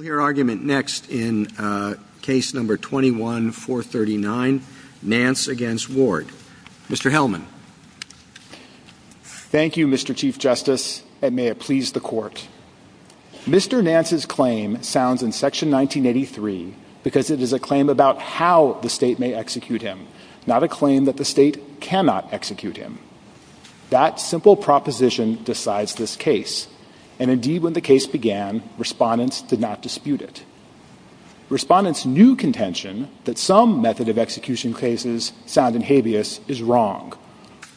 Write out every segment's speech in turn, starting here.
Your argument next in case number 21-439, Nance v. Ward. Mr. Hellman. Thank you, Mr. Chief Justice, and may it please the Court. Mr. Nance's claim sounds in Section 1983 because it is a claim about how the state may execute him, not a claim that the state cannot execute him. That simple proposition decides this case, and indeed when the case began, respondents did not dispute it. Respondents knew contention that some method of execution cases sound in habeas is wrong.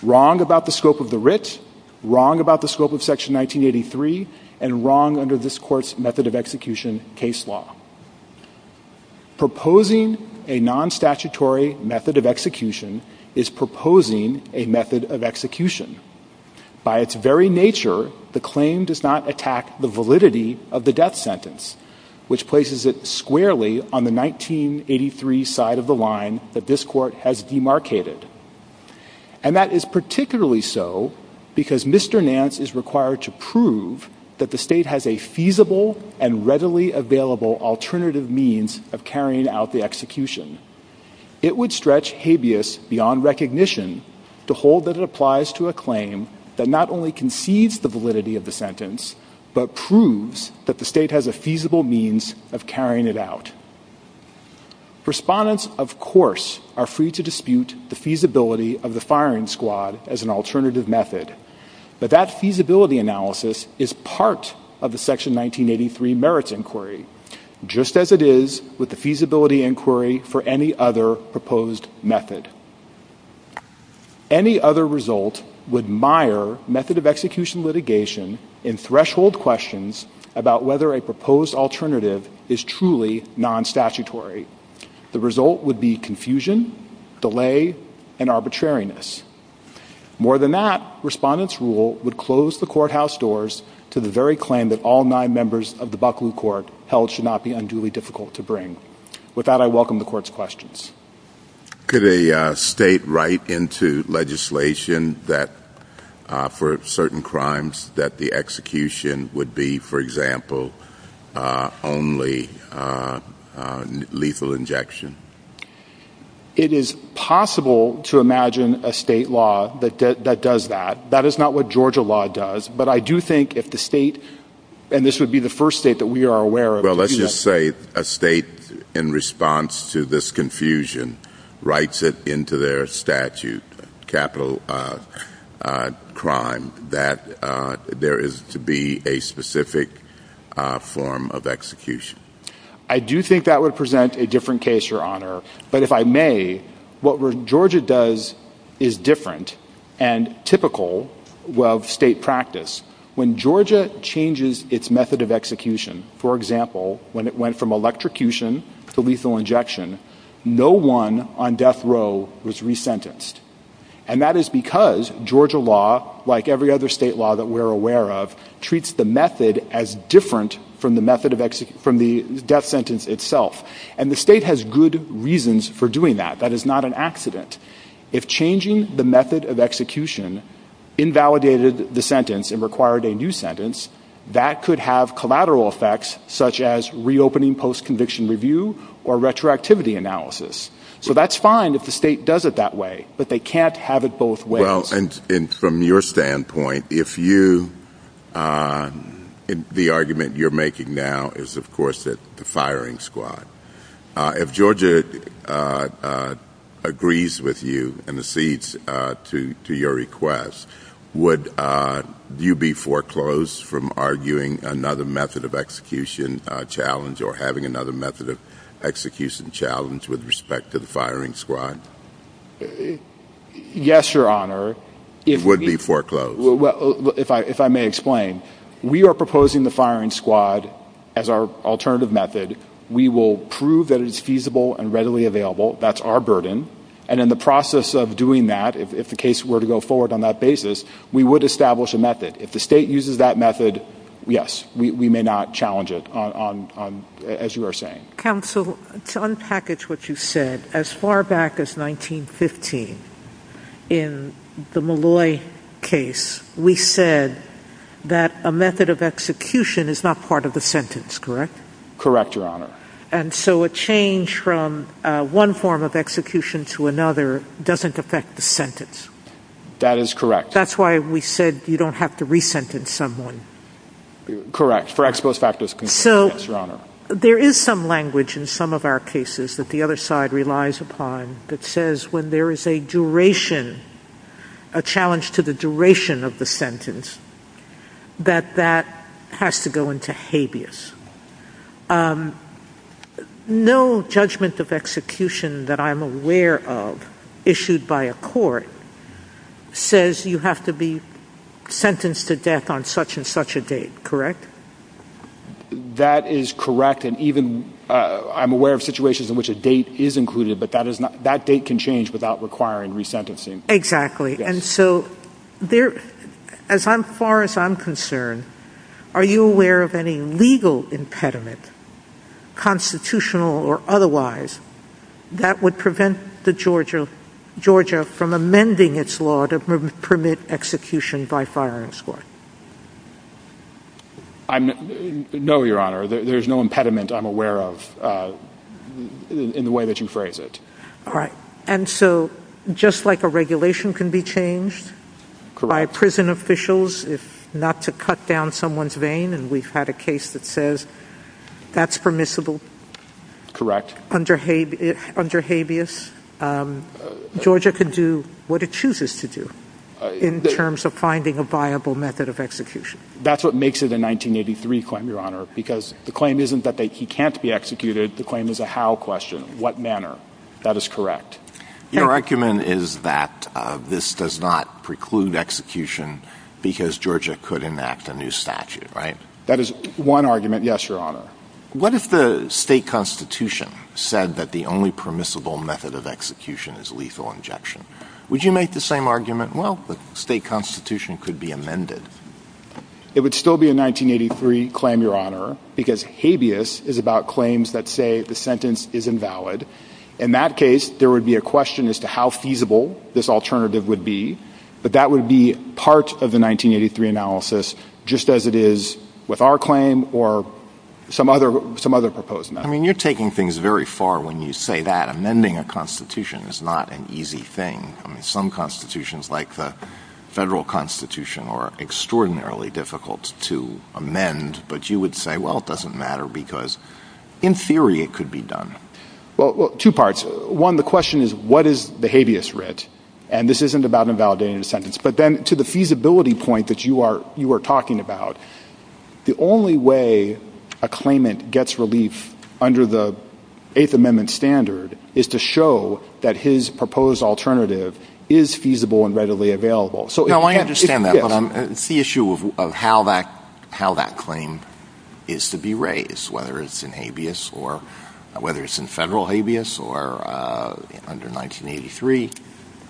Wrong about the scope of the writ, wrong about the scope of Section 1983, and wrong under this Court's method of execution case law. Proposing a non-statutory method of execution is proposing a method of execution. By its very nature, the claim does not attack the validity of the death sentence, which places it squarely on the 1983 side of the line that this Court has demarcated. And that is particularly so because Mr. Nance is required to prove that the state has a feasible and readily available alternative means of carrying out the execution. It would stretch habeas beyond recognition to hold that it applies to a claim that not only concedes the validity of the sentence, but proves that the state has a feasible means of carrying it out. Respondents, of course, are free to dispute the feasibility of the firing squad as an alternative method, but that feasibility analysis is part of the Section 1983 merits inquiry, just as it is with the feasibility inquiry for any other proposed method. Any other result would mire method of execution litigation in threshold questions about whether a proposed alternative is truly non-statutory. The result would be confusion, delay, and arbitrariness. More than that, Respondents' rule would close the courthouse doors to the very claim that all nine members of the Buckley Court held should not be unduly difficult to bring. With that, I welcome the Court's questions. Could a state write into legislation for certain crimes that the execution would be, for example, only lethal injection? It is possible to imagine a state law that does that. That is not what Georgia law does, but I do think if the state – and this would be the first state that we are aware of – Well, let's just say a state, in response to this confusion, writes it into their statute, capital crime, that there is to be a specific form of execution. I do think that would present a different case, Your Honor. But if I may, what Georgia does is different and typical of state practice. When Georgia changes its method of execution, for example, when it went from electrocution to lethal injection, no one on death row was resentenced. And that is because Georgia law, like every other state law that we are aware of, treats the method as different from the death sentence itself. And the state has good reasons for doing that. That is not an accident. If changing the method of execution invalidated the sentence and required a new sentence, that could have collateral effects, such as reopening post-conviction review or retroactivity analysis. So that is fine if the state does it that way, but they can't have it both ways. Well, and from your standpoint, if you – the argument you're making now is, of course, the firing squad. If Georgia agrees with you and accedes to your request, would you be foreclosed from arguing another method of execution challenge or having another method of execution challenge with respect to the firing squad? Yes, Your Honor. You would be foreclosed. If I may explain. We are proposing the firing squad as our alternative method. We will prove that it is feasible and readily available. That's our burden. And in the process of doing that, if the case were to go forward on that basis, we would establish a method. If the state uses that method, yes, we may not challenge it, as you are saying. Counsel, to unpackage what you said, as far back as 1915, in the Molloy case, we said that a method of execution is not part of the sentence, correct? Correct, Your Honor. And so a change from one form of execution to another doesn't affect the sentence. That is correct. That's why we said you don't have to re-sentence someone. Correct. Foreclosed practice. There is some language in some of our cases that the other side relies upon that says when there is a duration, a challenge to the duration of the sentence, that that has to go into habeas. No judgment of execution that I'm aware of issued by a court says you have to be sentenced to death on such and such a date, correct? That is correct, and even I'm aware of situations in which a date is included, but that date can change without requiring re-sentencing. Exactly, and so as far as I'm concerned, are you aware of any legal impediment, constitutional or otherwise, that would prevent Georgia from amending its law to permit execution by firing squad? No, Your Honor, there is no impediment I'm aware of in the way that you phrase it. All right, and so just like a regulation can be changed by prison officials if not to cut down someone's vein, and we've had a case that says that's permissible under habeas, Georgia can do what it chooses to do in terms of finding a viable method of execution. That's what makes it a 1983 claim, Your Honor, because the claim isn't that he can't be executed, the claim is a how question, what manner. That is correct. Your argument is that this does not preclude execution because Georgia could enact a new statute, right? That is one argument, yes, Your Honor. What if the state constitution said that the only permissible method of execution is lethal injection? Would you make the same argument, well, the state constitution could be amended? It would still be a 1983 claim, Your Honor, because habeas is about claims that say the sentence is invalid. In that case, there would be a question as to how feasible this alternative would be, but that would be part of the 1983 analysis just as it is with our claim or some other proposed method. I mean, you're taking things very far when you say that amending a constitution is not an easy thing. Some constitutions, like the federal constitution, are extraordinarily difficult to amend, but you would say, well, it doesn't matter because in theory it could be done. Well, two parts. One, the question is what is the habeas writ, and this isn't about invalidating the sentence, but then to the feasibility point that you are talking about, the only way a claimant gets relief under the Eighth Amendment standard is to show that his proposed alternative is feasible and readily available. No, I understand that, but it's the issue of how that claim is to be raised, whether it's in habeas or whether it's in federal habeas or under 1983.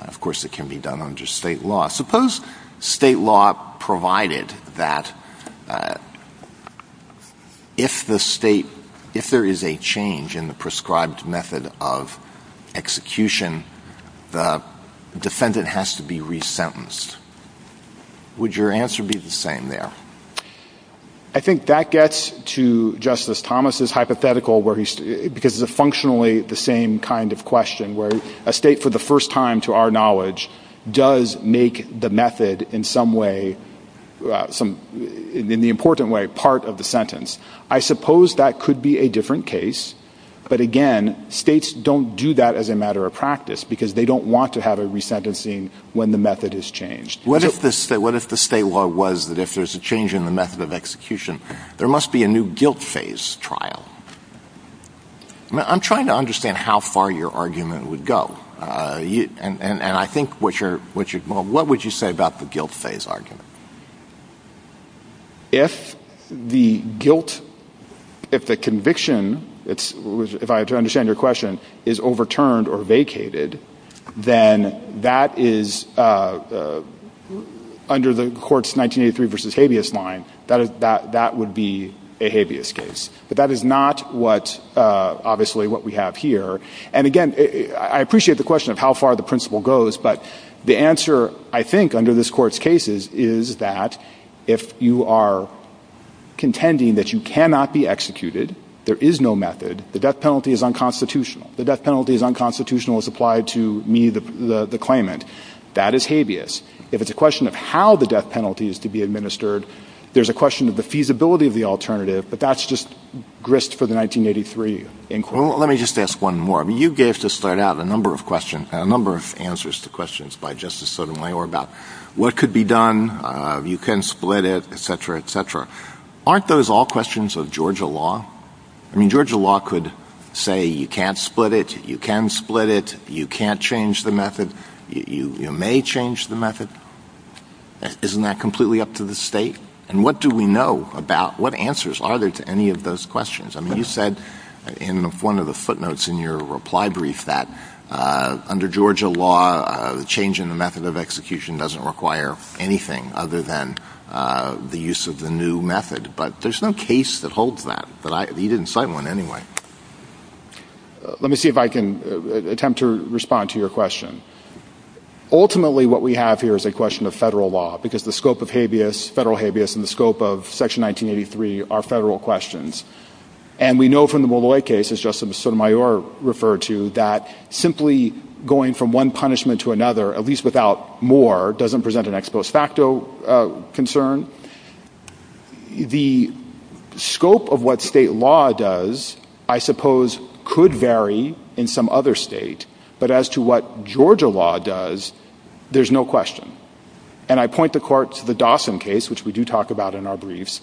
Of course, it can be done under state law. Suppose state law provided that if there is a change in the prescribed method of execution, the defendant has to be resentenced. Would your answer be the same there? I think that gets to Justice Thomas's hypothetical, because it's functionally the same kind of question, where a state, for the first time to our knowledge, does make the method, in the important way, part of the sentence. I suppose that could be a different case, but again, states don't do that as a matter of practice because they don't want to have a resentencing when the method is changed. What if the state law was that if there's a change in the method of execution, there must be a new guilt phase trial? I'm trying to understand how far your argument would go. What would you say about the guilt phase argument? If the guilt, if the conviction, if I understand your question, is overturned or vacated, then that is, under the court's 1983 v. habeas line, that would be a habeas case. But that is not what, obviously, what we have here. And again, I appreciate the question of how far the principle goes, but the answer, I think, under this court's case is that if you are contending that you cannot be executed, there is no method, the death penalty is unconstitutional. The death penalty is unconstitutional as applied to me, the claimant. That is habeas. If it's a question of how the death penalty is to be administered, there's a question of the feasibility of the alternative, but that's just grist for the 1983 inquiry. Let me just ask one more. You gave, to start out, a number of questions, a number of answers to questions by Justice Sotomayor about what could be done, you can split it, etc., etc. Aren't those all questions of Georgia law? I mean, Georgia law could say you can't split it, you can split it, you can't change the method, you may change the method. Isn't that completely up to the state? And what do we know about, what answers are there to any of those questions? I mean, you said in one of the footnotes in your reply brief that under Georgia law, a change in the method of execution doesn't require anything other than the use of the new method, but there's no case that holds that, but you didn't cite one anyway. Let me see if I can attempt to respond to your question. Ultimately, what we have here is a question of federal law, because the scope of habeas, federal habeas, and the scope of Section 1983 are federal questions, and we know from the Molloy case, as Justice Sotomayor referred to, that simply going from one punishment to another, at least without more, doesn't present an ex post facto concern. The scope of what state law does, I suppose, could vary in some other state, but as to what Georgia law does, there's no question. And I point the court to the Dawson case, which we do talk about in our briefs,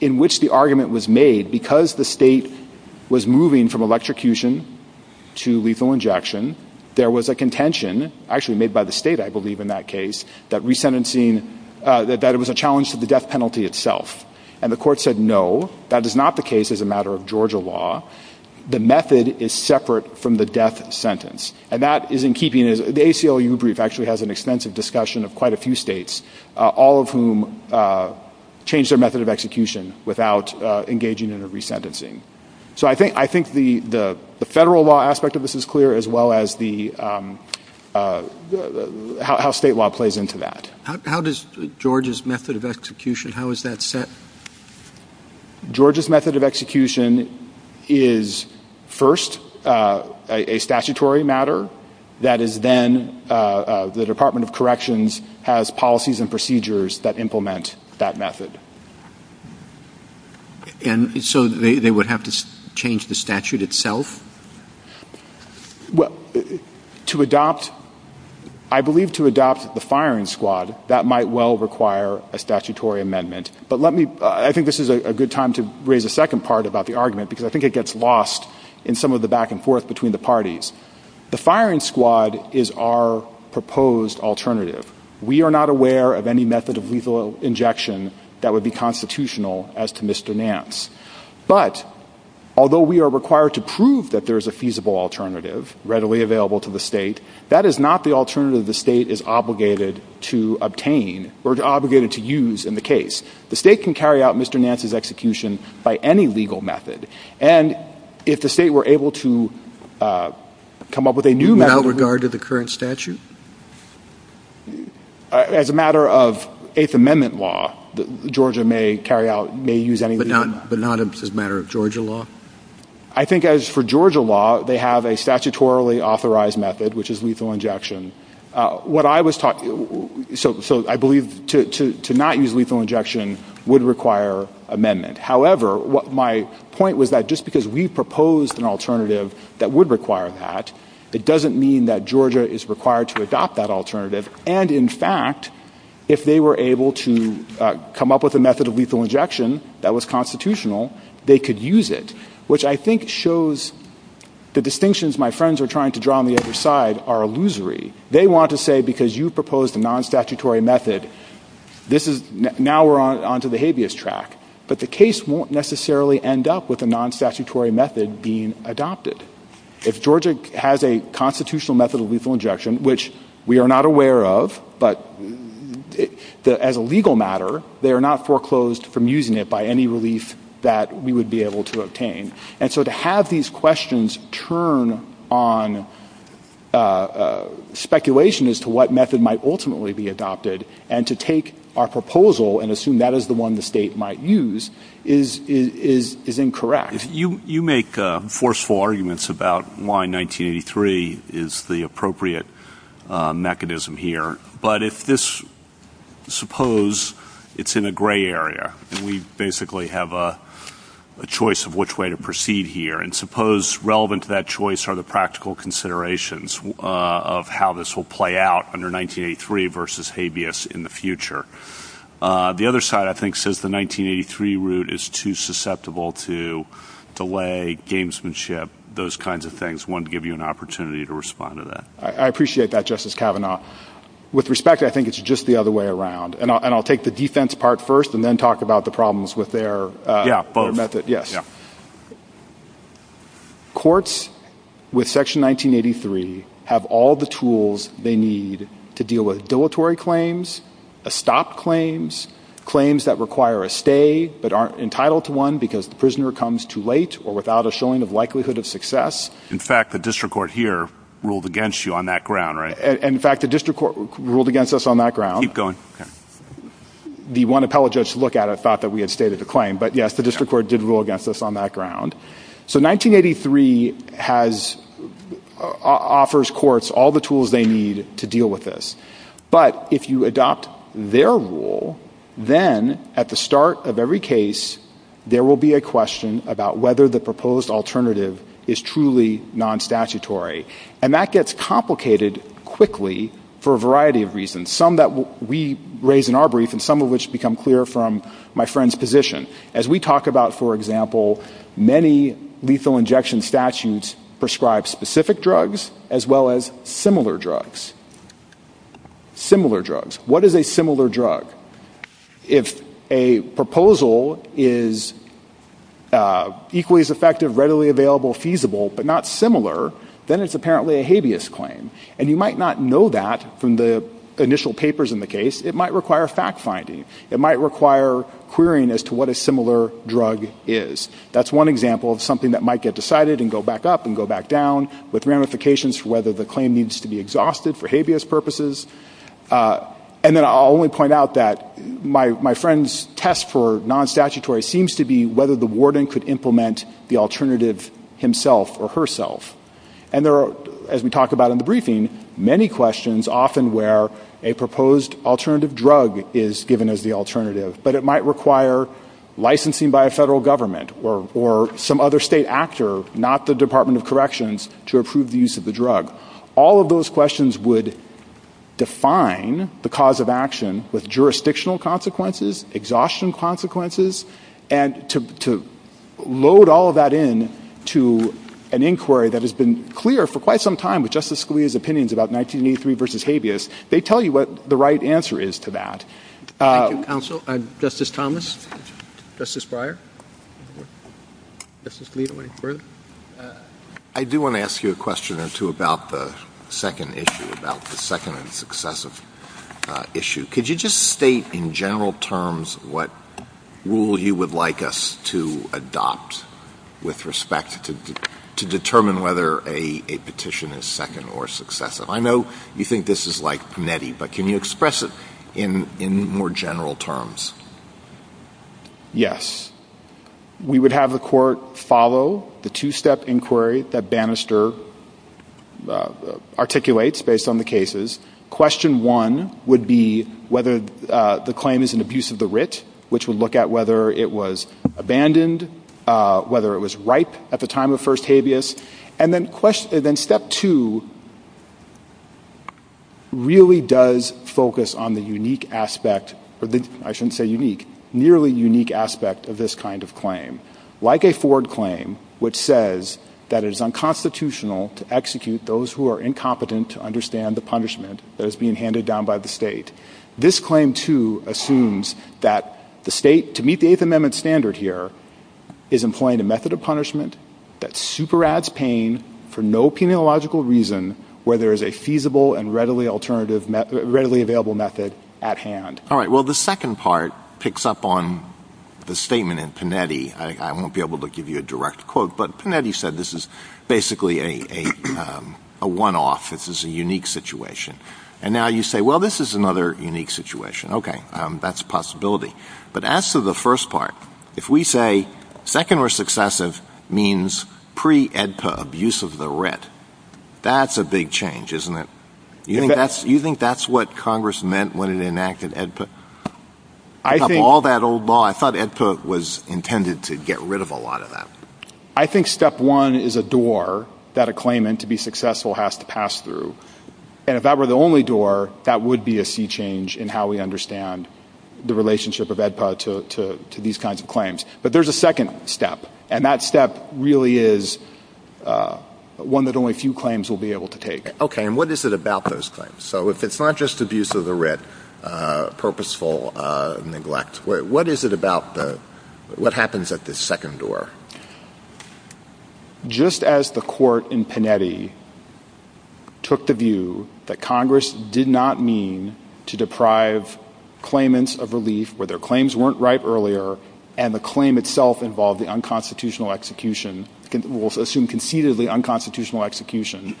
in which the argument was made, because the state was moving from electrocution to lethal injection, there was a contention, actually made by the state, I believe, in that case, that resentencing, that it was a challenge to the death penalty itself. And the court said, no, that is not the case as a matter of Georgia law. The method is separate from the death sentence. And that is in keeping, the ACLU brief actually has an extensive discussion of quite a few states, all of whom changed their method of execution without engaging in a resentencing. So I think the federal law aspect of this is clear, as well as how state law plays into that. How does Georgia's method of execution, how is that set? Georgia's method of execution is, first, a statutory matter, that is then, the Department of Corrections has policies and procedures that implement that method. And so they would have to change the statute itself? Well, to adopt, I believe to adopt the firing squad, that might well require a statutory amendment. But let me, I think this is a good time to raise a second part about the argument, because I think it gets lost in some of the back and forth between the parties. The firing squad is our proposed alternative. We are not aware of any method of lethal injection that would be constitutional as to Mr. Nance. But, although we are required to prove that there is a feasible alternative readily available to the state, that is not the alternative the state is obligated to obtain, or obligated to use in the case. The state can carry out Mr. Nance's execution by any legal method. And if the state were able to come up with a new method... Without regard to the current statute? As a matter of Eighth Amendment law, Georgia may carry out, may use any legal method. But not as a matter of Georgia law? I think as for Georgia law, they have a statutorily authorized method, which is lethal injection. What I was taught, so I believe to not use lethal injection would require amendment. However, what my point was that just because we proposed an alternative that would require that, it doesn't mean that Georgia is required to adopt that alternative. And, in fact, if they were able to come up with a method of lethal injection that was constitutional, they could use it. Which I think shows the distinctions my friends are trying to draw on the other side are illusory. They want to say because you proposed a non-statutory method, now we're onto the habeas track. But the case won't necessarily end up with a non-statutory method being adopted. If Georgia has a constitutional method of lethal injection, which we are not aware of, but as a legal matter, they are not foreclosed from using it by any relief that we would be able to obtain. And so to have these questions turn on speculation as to what method might ultimately be adopted, and to take our proposal and assume that is the one the state might use, is incorrect. You make forceful arguments about why 1983 is the appropriate mechanism here. But if this, suppose it's in a gray area, and we basically have a choice of which way to proceed here. And suppose relevant to that choice are the practical considerations of how this will play out under 1983 versus habeas in the future. The other side, I think, says the 1983 route is too susceptible to delay, gamesmanship, those kinds of things. I wanted to give you an opportunity to respond to that. I appreciate that, Justice Kavanaugh. With respect, I think it's just the other way around. And I'll take the defense part first and then talk about the problems with their method. Yeah, both. Courts with Section 1983 have all the tools they need to deal with dilatory claims, stop claims, claims that require a stay but aren't entitled to one because the prisoner comes too late or without a showing of likelihood of success. In fact, the district court here ruled against you on that ground, right? In fact, the district court ruled against us on that ground. Keep going. The one appellate judge to look at it thought that we had stated the claim. But, yes, the district court did rule against us on that ground. So 1983 offers courts all the tools they need to deal with this. But if you adopt their rule, then at the start of every case, there will be a question about whether the proposed alternative is truly non-statutory. And that gets complicated quickly for a variety of reasons, some that we raise in our brief and some of which become clear from my friend's position. As we talk about, for example, many lethal injection statutes prescribe specific drugs as well as similar drugs. Similar drugs. What is a similar drug? If a proposal is equally as effective, readily available, feasible, but not similar, then it's apparently a habeas claim. And you might not know that from the initial papers in the case. It might require fact-finding. It might require querying as to what a similar drug is. That's one example of something that might get decided and go back up and go back down with ramifications for whether the claim needs to be exhausted for habeas purposes. And then I'll only point out that my friend's test for non-statutory seems to be whether the warden could implement the alternative himself or herself. And there are, as we talked about in the briefing, many questions often where a proposed alternative drug is given as the alternative. But it might require licensing by a federal government or some other state actor, not the Department of Corrections, to approve the use of the drug. All of those questions would define the cause of action with jurisdictional consequences, exhaustion consequences. And to load all of that in to an inquiry that has been clear for quite some time with Justice Scalia's opinions about 1983 v. habeas, they tell you what the right answer is to that. Thank you, counsel. Justice Thomas? Justice Breyer? Justice Gleeson, any further? I do want to ask you a question or two about the second issue, about the second and successive issue. Could you just state in general terms what rule you would like us to adopt with respect to determine whether a petition is second or successive? I know you think this is like Panetti, but can you express it in more general terms? Yes. We would have the court follow the two-step inquiry that Bannister articulates based on the cases. Question one would be whether the claim is an abuse of the writ, which would look at whether it was abandoned, whether it was ripe at the time of first habeas. And then step two really does focus on the unique aspect, I shouldn't say unique, nearly unique aspect of this kind of claim. Like a Ford claim, which says that it is unconstitutional to execute those who are incompetent to understand the punishment that is being handed down by the state. This claim, too, assumes that the state, to meet the Eighth Amendment standard here, is employing a method of punishment that superabs pain for no penalogical reason where there is a feasible and readily available method at hand. All right, well the second part picks up on the statement in Panetti. I won't be able to give you a direct quote, but Panetti said this is basically a one-off, this is a unique situation. And now you say, well this is another unique situation. Okay, that's a possibility. But as to the first part, if we say second or successive means pre-AEDPA abuse of the writ, that's a big change, isn't it? You think that's what Congress meant when it enacted AEDPA? I have all that old law, I thought AEDPA was intended to get rid of a lot of that. I think step one is a door that a claimant, to be successful, has to pass through. And if that were the only door, that would be a sea change in how we understand the relationship of AEDPA to these kinds of claims. But there's a second step, and that step really is one that only a few claims will be able to take. Okay, and what is it about those claims? So if it's not just abuse of the writ, purposeful neglect, what is it about, what happens at this second door? Just as the court in Panetti took the view that Congress did not mean to deprive claimants of relief where their claims weren't right earlier, and the claim itself involved the unconstitutional execution, we'll assume concededly unconstitutional execution,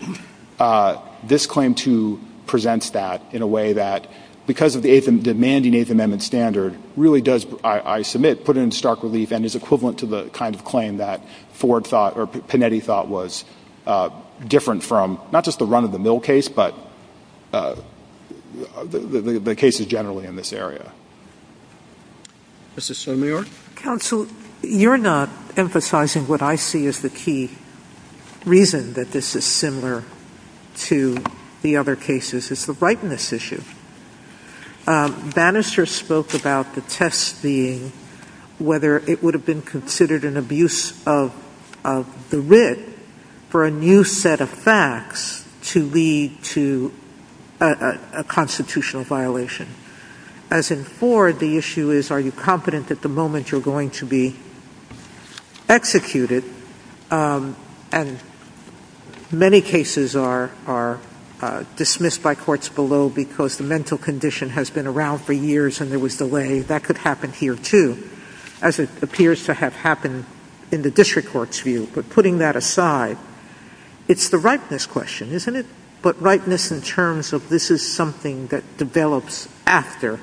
this claim presents that in a way that, because of the demanding Eighth Amendment standard, really does, I submit, put it in stark relief and is equivalent to the kind of claim that Panetti thought was different from, not just the run-of-the-mill case, but the cases generally in this area. Mr. Sotomayor? Counsel, you're not emphasizing what I see as the key reason that this is similar to the other cases. It's the rightness issue. Bannister spoke about the test being whether it would have been considered an abuse of the writ for a new set of facts to lead to a constitutional violation, as in Ford, the issue is are you confident that the moment you're going to be executed, and many cases are dismissed by courts below because the mental condition has been around for years and there was delay, that could happen here too, as it appears to have happened in the district court's view, but putting that aside, it's the rightness question, isn't it? But rightness in terms of this is something that develops after,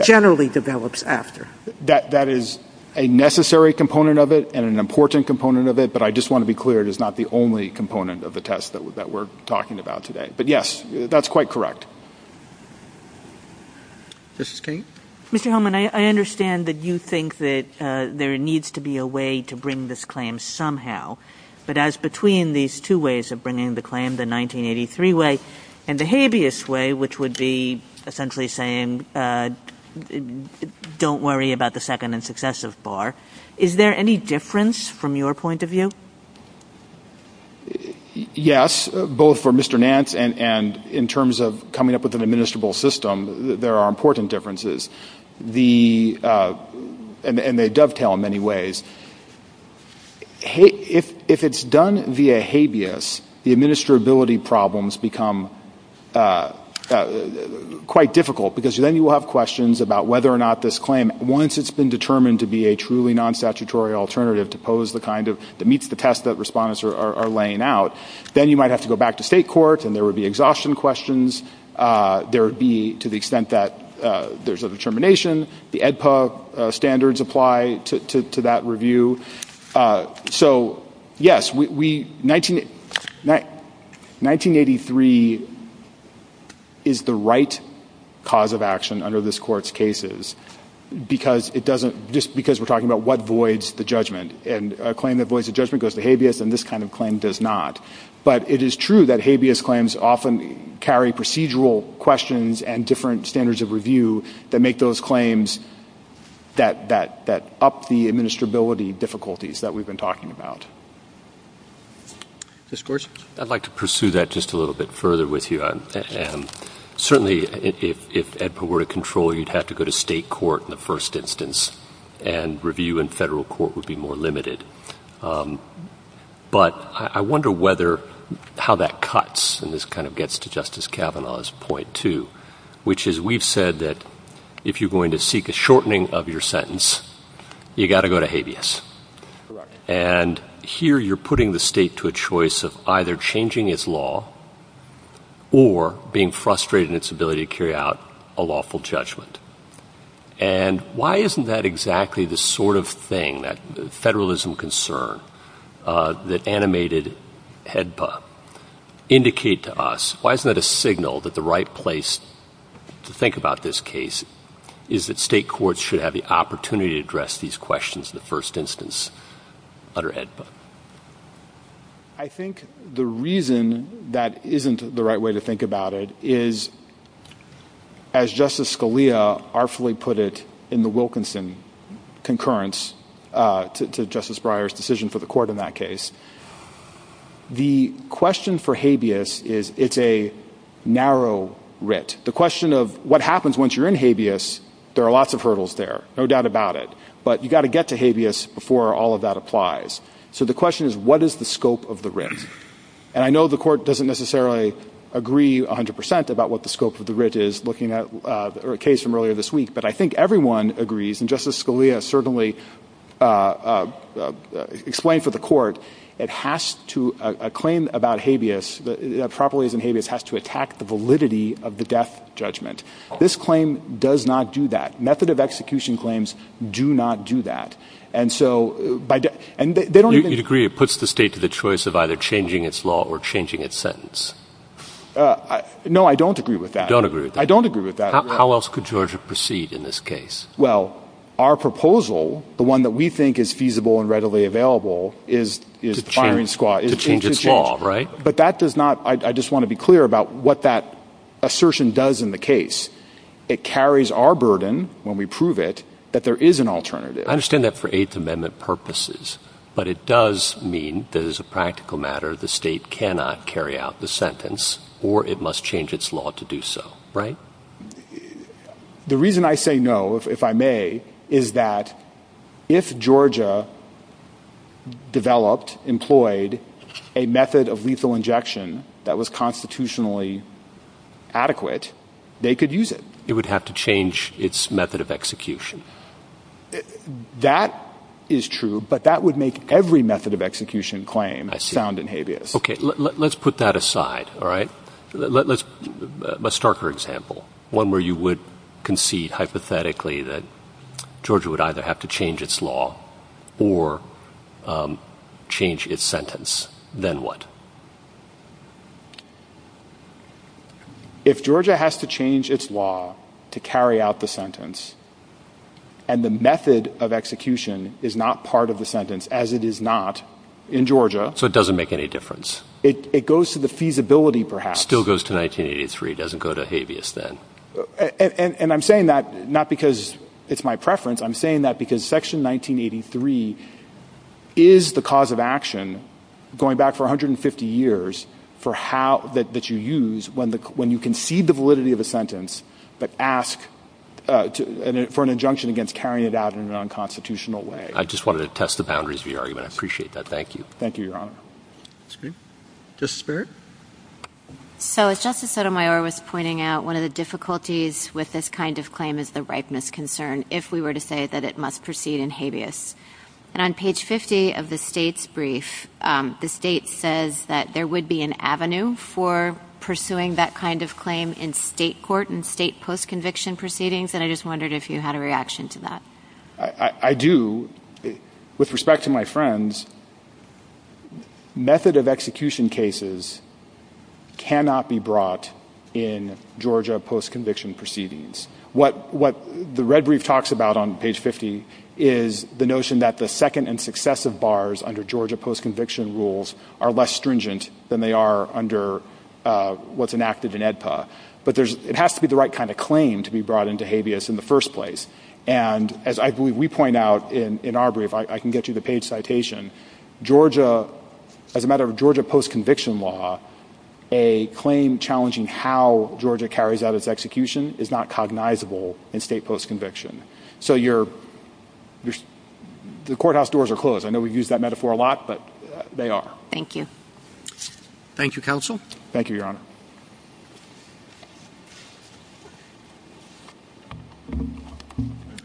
generally develops after. That is a necessary component of it and an important component of it, but I just want to be clear it is not the only component of the test that we're talking about today. But yes, that's quite correct. Mrs. King? Mr. Holman, I understand that you think that there needs to be a way to bring this claim somehow, but as between these two ways of bringing the claim, the 1983 way and the habeas way, which would be essentially saying don't worry about the second and successive bar, is there any difference from your point of view? Yes, both for Mr. Nance and in terms of coming up with an administrable system, there are important differences, and they dovetail in many ways. If it's done via habeas, the administrability problems become quite difficult because then you will have questions about whether or not this claim, once it's been determined to be a truly non-statutory alternative that meets the test that respondents are laying out, then you might have to go back to state court and there would be exhaustion questions. There would be to the extent that there's a determination. The AEDPA standards apply to that review. So, yes, 1983 is the right cause of action under this Court's cases because we're talking about what voids the judgment, and a claim that voids the judgment goes to habeas and this kind of claim does not. But it is true that habeas claims often carry procedural questions and different standards of review that make those claims that up the administrability difficulties that we've been talking about. Mr. Gorsuch? I'd like to pursue that just a little bit further with you. Certainly, if AEDPA were to control, you'd have to go to state court in the first instance, and review in federal court would be more limited. But I wonder how that cuts, and this kind of gets to Justice Kavanaugh's point too, which is we've said that if you're going to seek a shortening of your sentence, you've got to go to habeas. And here you're putting the state to a choice of either changing its law or being frustrated in its ability to carry out a lawful judgment. And why isn't that exactly the sort of thing, that federalism concern that animated AEDPA indicate to us? Why isn't that a signal that the right place to think about this case is that state courts should have the opportunity to address these questions in the first instance under AEDPA? I think the reason that isn't the right way to think about it is, as Justice Scalia artfully put it in the Wilkinson concurrence to Justice Breyer's decision for the court in that case, the question for habeas is it's a narrow writ. The question of what happens once you're in habeas, there are lots of hurdles there, no doubt about it. But you've got to get to habeas before all of that applies. So the question is, what is the scope of the writ? And I know the court doesn't necessarily agree 100% about what the scope of the writ is, looking at a case from earlier this week, but I think everyone agrees, and Justice Scalia certainly explained for the court, a claim about habeas, properties in habeas, has to attack the validity of the death judgment. This claim does not do that. Method of execution claims do not do that. You'd agree it puts the state to the choice of either changing its law or changing its sentence? No, I don't agree with that. You don't agree with that? I don't agree with that. How else could Georgia proceed in this case? Well, our proposal, the one that we think is feasible and readily available, is firing squad. To change its law, right? But that does not, I just want to be clear about what that assertion does in the case. It carries our burden, when we prove it, that there is an alternative. I understand that for Eighth Amendment purposes, but it does mean that as a practical matter the state cannot carry out the sentence, or it must change its law to do so, right? The reason I say no, if I may, is that if Georgia developed, employed, a method of lethal injection that was constitutionally adequate, they could use it. It would have to change its method of execution. That is true, but that would make every method of execution claim sound in habeas. Okay, let's put that aside, all right? Let's start with an example, one where you would concede hypothetically that Georgia would either have to change its law or change its sentence. Then what? If Georgia has to change its law to carry out the sentence, and the method of execution is not part of the sentence, as it is not in Georgia. So it doesn't make any difference? It goes to the feasibility, perhaps. It still goes to 1983. It doesn't go to habeas then. And I'm saying that not because it's my preference. I'm saying that because Section 1983 is the cause of action, going back for 150 years, that you use when you concede the validity of a sentence, but ask for an injunction against carrying it out in an unconstitutional way. I just wanted to test the boundaries of your argument. I appreciate that. Thank you. Thank you, Your Honor. Okay. Justice Barrett? So, as Justice Sotomayor was pointing out, one of the difficulties with this kind of claim is the ripeness concern, if we were to say that it must proceed in habeas. And on page 50 of the state's brief, the state says that there would be an avenue for pursuing that kind of claim in state court and state post-conviction proceedings, and I just wondered if you had a reaction to that. I do. With respect to my friends, method of execution cases cannot be brought in Georgia post-conviction proceedings. What the red brief talks about on page 50 is the notion that the second and successive bars under Georgia post-conviction rules are less stringent than they are under what's enacted in AEDPA. But it has to be the right kind of claim to be brought into habeas in the first place. And as I believe we point out in our brief, I can get you the page citation, Georgia, as a matter of Georgia post-conviction law, a claim challenging how Georgia carries out its execution is not cognizable in state post-conviction. So, the courthouse doors are closed. I know we use that metaphor a lot, but they are. Thank you. Thank you, Counsel. Thank you, Your Honor.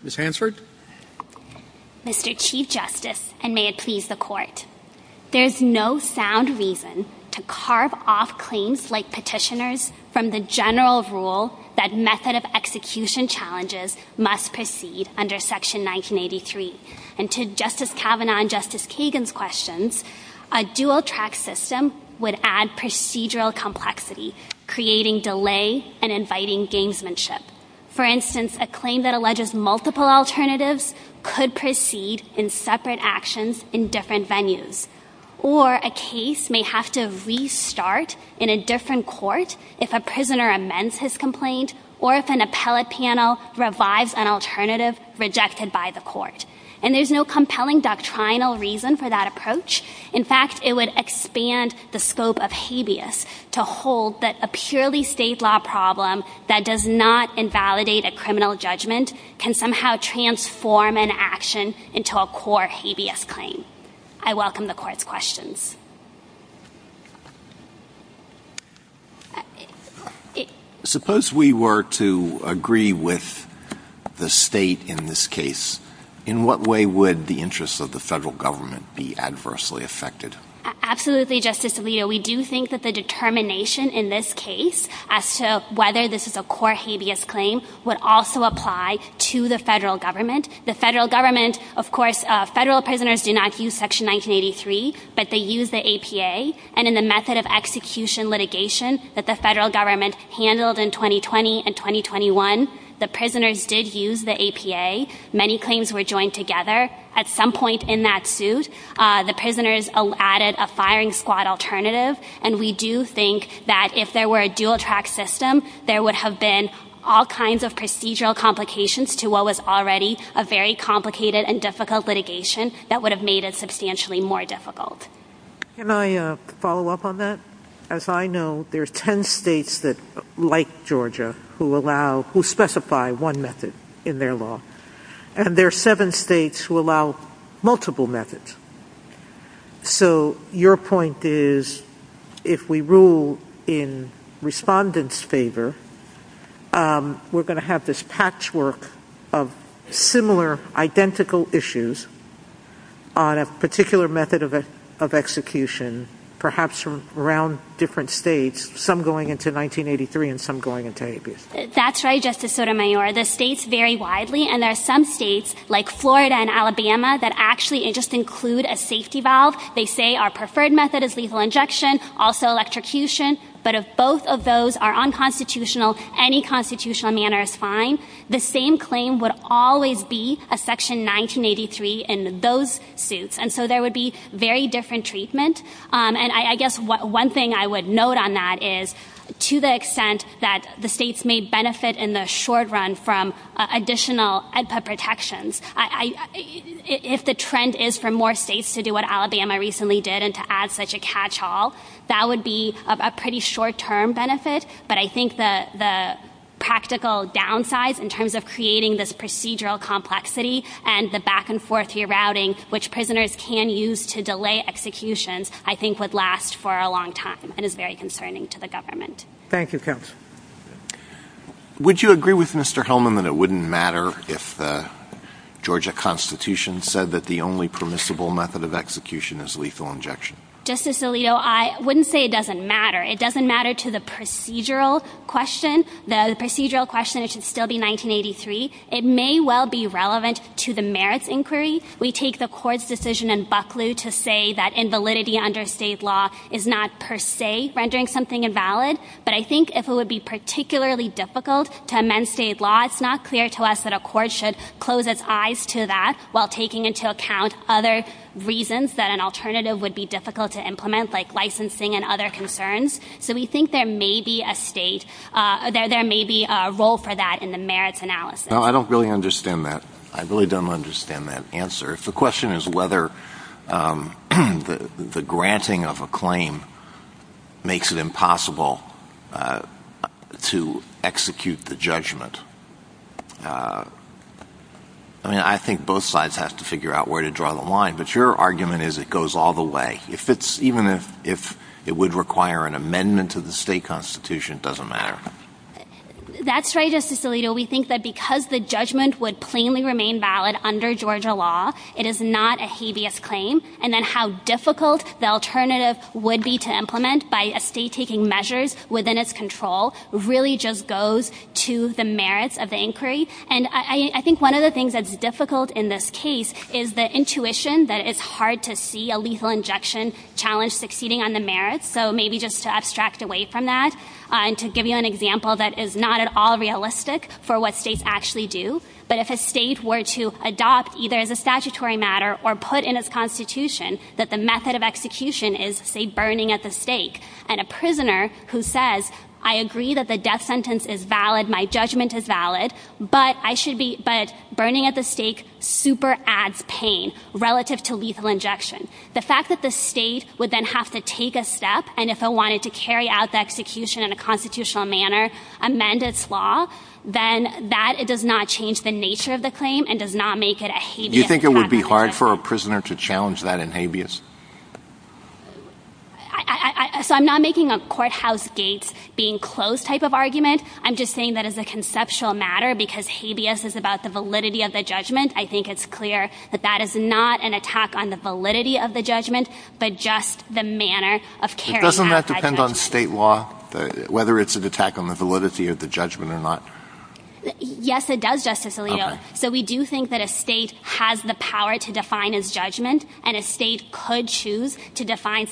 Ms. Hansford? Mr. Chief Justice, and may it please the Court, there is no sound reason to carve off claims like petitioners from the general rule that method of execution challenges must proceed under Section 1983. And to Justice Kavanaugh and Justice Kagan's questions, a dual-track system would add procedural complexity, creating delay and inviting gamesmanship. For instance, a claim that alleges multiple alternatives could proceed in separate actions in different venues. Or a case may have to restart in a different court if a prisoner amends his complaint or if an appellate panel revives an alternative rejected by the court. And there's no compelling doctrinal reason for that approach. In fact, it would expand the scope of habeas to hold that a purely state law problem that does not invalidate a criminal judgment can somehow transform an action into a core habeas claim. I welcome the Court's questions. Suppose we were to agree with the state in this case, in what way would the interests of the federal government be adversely affected? Absolutely, Justice Alito. We do think that the determination in this case as to whether this is a core habeas claim would also apply to the federal government. The federal government, of course, federal prisoners do not use Section 1983, but they use the APA. And in the method of execution litigation that the federal government handled in 2020 and 2021, the prisoners did use the APA. Many claims were joined together at some point in that suit. The prisoners added a firing squad alternative. And we do think that if there were a dual-track system, there would have been all kinds of procedural complications to what was already a very complicated and difficult litigation that would have made it substantially more difficult. Can I follow up on that? As I know, there are 10 states like Georgia who specify one method in their law. And there are seven states who allow multiple methods. So your point is if we rule in respondents' favor, we're going to have this patchwork of similar identical issues on a particular method of execution, perhaps from around different states, some going into 1983 and some going into APA. That's right, Justice Sotomayor. The states vary widely, and there are some states like Florida and Alabama that actually just include a safety valve. They say our preferred method is lethal injection, also electrocution. But if both of those are unconstitutional, any constitutional manner is fine. The same claim would always be a Section 1983 in those suits. And so there would be very different treatment. And I guess one thing I would note on that is to the extent that the states may benefit in the short run from additional APA protections, if the trend is for more states to do what Alabama recently did and to add such a catch-all, that would be of a pretty short-term benefit. But I think the practical downsides in terms of creating this procedural complexity and the back-and-forth routing, which prisoners can use to delay executions, I think would last for a long time and is very concerning to the government. Thank you, counsel. Would you agree with Mr. Hillman that it wouldn't matter if the Georgia Constitution said that the only permissible method of execution is lethal injection? Justice Alito, I wouldn't say it doesn't matter. It doesn't matter to the procedural question. The procedural question should still be 1983. It may well be relevant to the merits inquiry. We take the court's decision in Buckley to say that invalidity under state law is not per se rendering something invalid. But I think if it would be particularly difficult to amend state law, it's not clear to us that a court should close its eyes to that while taking into account other reasons that an alternative would be difficult to implement, like licensing and other concerns. So we think there may be a role for that in the merits analysis. No, I don't really understand that. I really don't understand that answer. The question is whether the granting of a claim makes it impossible to execute the judgment. I mean, I think both sides have to figure out where to draw the line. But your argument is it goes all the way. Even if it would require an amendment to the state constitution, it doesn't matter. That's right, Justice Alito. We think that because the judgment would plainly remain valid under Georgia law, it is not a habeas claim. And then how difficult the alternative would be to implement by a state taking measures within its control really just goes to the merits of the inquiry. And I think one of the things that's difficult in this case is the intuition that it's hard to see a lethal injection challenge succeeding on the merits. So maybe just to abstract away from that and to give you an example that is not at all realistic for what states actually do. But if a state were to adopt either as a statutory matter or put in its constitution that the method of execution is, say, burning at the stake, and a prisoner who says, I agree that the death sentence is valid, my judgment is valid, but burning at the stake super adds pain relative to lethal injection. The fact that the state would then have to take a step, and if it wanted to carry out the execution in a constitutional manner, amend its law, then that does not change the nature of the claim and does not make it a habeas. Do you think it would be hard for a prisoner to challenge that in habeas? So I'm not making a courthouse gate being closed type of argument. I'm just saying that as a conceptual matter because habeas is about the validity of the judgment, I think it's clear that that is not an attack on the validity of the judgment but just the manner of carrying out judgment. Doesn't that depend on state law, whether it's an attack on the validity of the judgment or not? Yes, it does, Justice Alito. So we do think that a state has the power to define its judgment, and a state could choose to define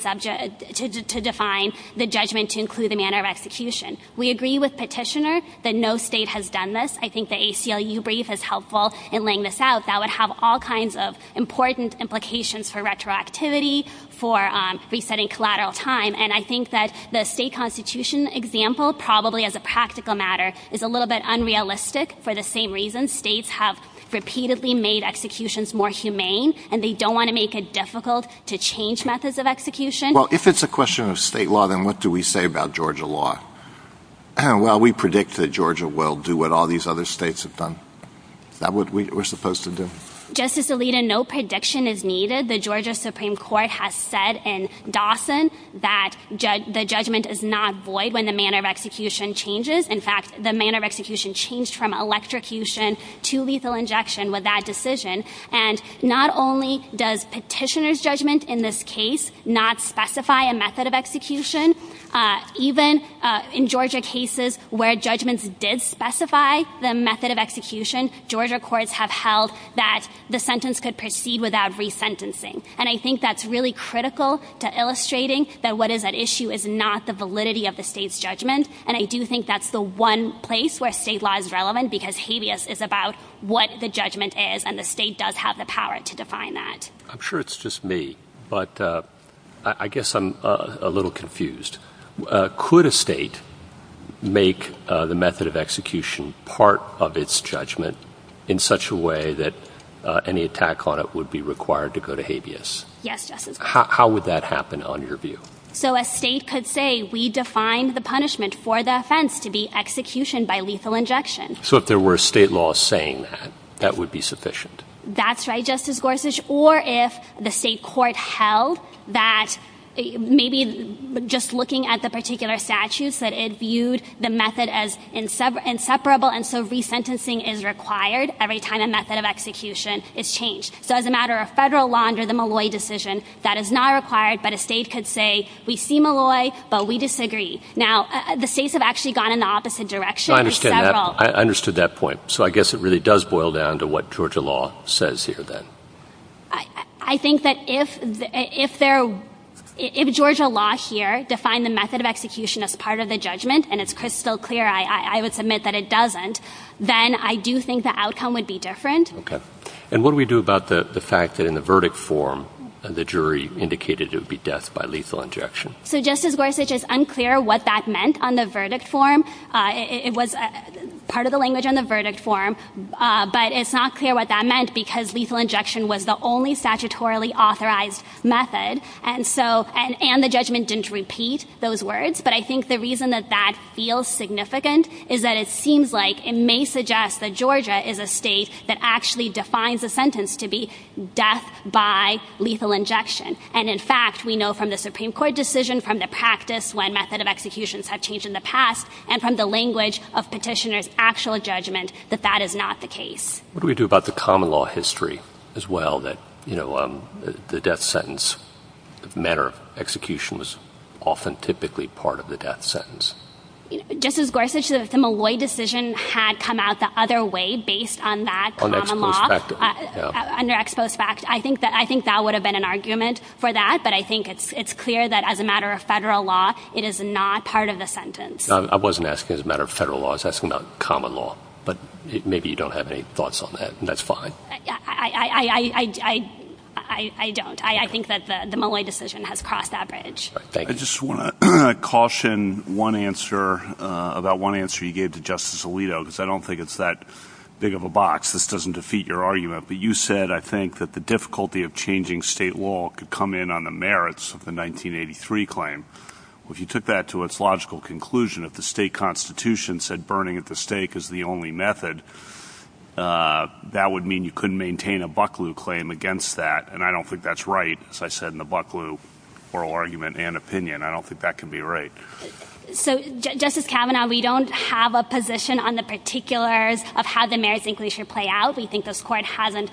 the judgment to include the manner of execution. We agree with Petitioner that no state has done this. I think the ACLU brief is helpful in laying this out. That would have all kinds of important implications for retroactivity, for resetting collateral time, and I think that the state constitution example, probably as a practical matter, is a little bit unrealistic for the same reason states have repeatedly made executions more humane and they don't want to make it difficult to change methods of execution. Well, if it's a question of state law, then what do we say about Georgia law? Well, we predict that Georgia will do what all these other states have done. That's what we're supposed to do. Justice Alito, no prediction is needed. The Georgia Supreme Court has said in Dawson that the judgment is not void when the manner of execution changes. In fact, the manner of execution changed from electrocution to lethal injection with that decision. And not only does Petitioner's judgment in this case not specify a method of execution, even in Georgia cases where judgments did specify the method of execution, Georgia courts have held that the sentence could proceed without resentencing. And I think that's really critical to illustrating that what is at issue is not the validity of the state's judgment, and I do think that's the one place where state law is relevant because habeas is about what the judgment is and the state does have the power to define that. I'm sure it's just me, but I guess I'm a little confused. Could a state make the method of execution part of its judgment in such a way that any attack on it would be required to go to habeas? Yes, Justice Gorsuch. How would that happen on your view? So a state could say, we defined the punishment for the offense to be execution by lethal injection. So if there were state law saying that, that would be sufficient? That's right, Justice Gorsuch. Or if the state court held that maybe just looking at the particular statute, that it viewed the method as inseparable and so resentencing is required every time a method of execution is changed. So as a matter of federal law under the Malloy decision, that is not required, but a state could say, we see Malloy, but we disagree. Now, the states have actually gone in the opposite direction. I understand that. I understand that point. So I guess it really does boil down to what Georgia law says here, then. I think that if Georgia law here defined the method of execution as part of the judgment, and it's crystal clear I would submit that it doesn't, then I do think the outcome would be different. Okay. And what do we do about the fact that in the verdict form, the jury indicated it would be death by lethal injection? So Justice Gorsuch, it's unclear what that meant on the verdict form. It was part of the language on the verdict form, but it's not clear what that meant because lethal injection was the only statutorily authorized method, and the judgment didn't repeat those words. But I think the reason that that feels significant is that it seems like it may suggest that Georgia is a state that actually defines a sentence to be death by lethal injection. And, in fact, we know from the Supreme Court decision, from the practice when method of executions have changed in the past, and from the language of petitioner's actual judgment that that is not the case. What do we do about the common law history, as well, that, you know, the death sentence manner of execution was often typically part of the death sentence? Justice Gorsuch, a similar decision had come out the other way based on that common law. On exposed facts. Under exposed facts. I think that would have been an argument for that, but I think it's clear that as a matter of federal law, it is not part of the sentence. I wasn't asking as a matter of federal law. I was asking about common law. But maybe you don't have any thoughts on that, and that's fine. I don't. I think that the Malay decision has cross-averaged. Thank you. I just want to caution one answer, about one answer you gave to Justice Alito, because I don't think it's that big of a box. This doesn't defeat your argument. You said, I think, that the difficulty of changing state law could come in on the merits of the 1983 claim. If you took that to its logical conclusion, if the state constitution said burning at the stake is the only method, that would mean you couldn't maintain a Bucklew claim against that, and I don't think that's right, as I said in the Bucklew oral argument and opinion. I don't think that could be right. So, Justice Kavanaugh, we don't have a position on the particulars of how the merits inclusion should play out. We think this court hasn't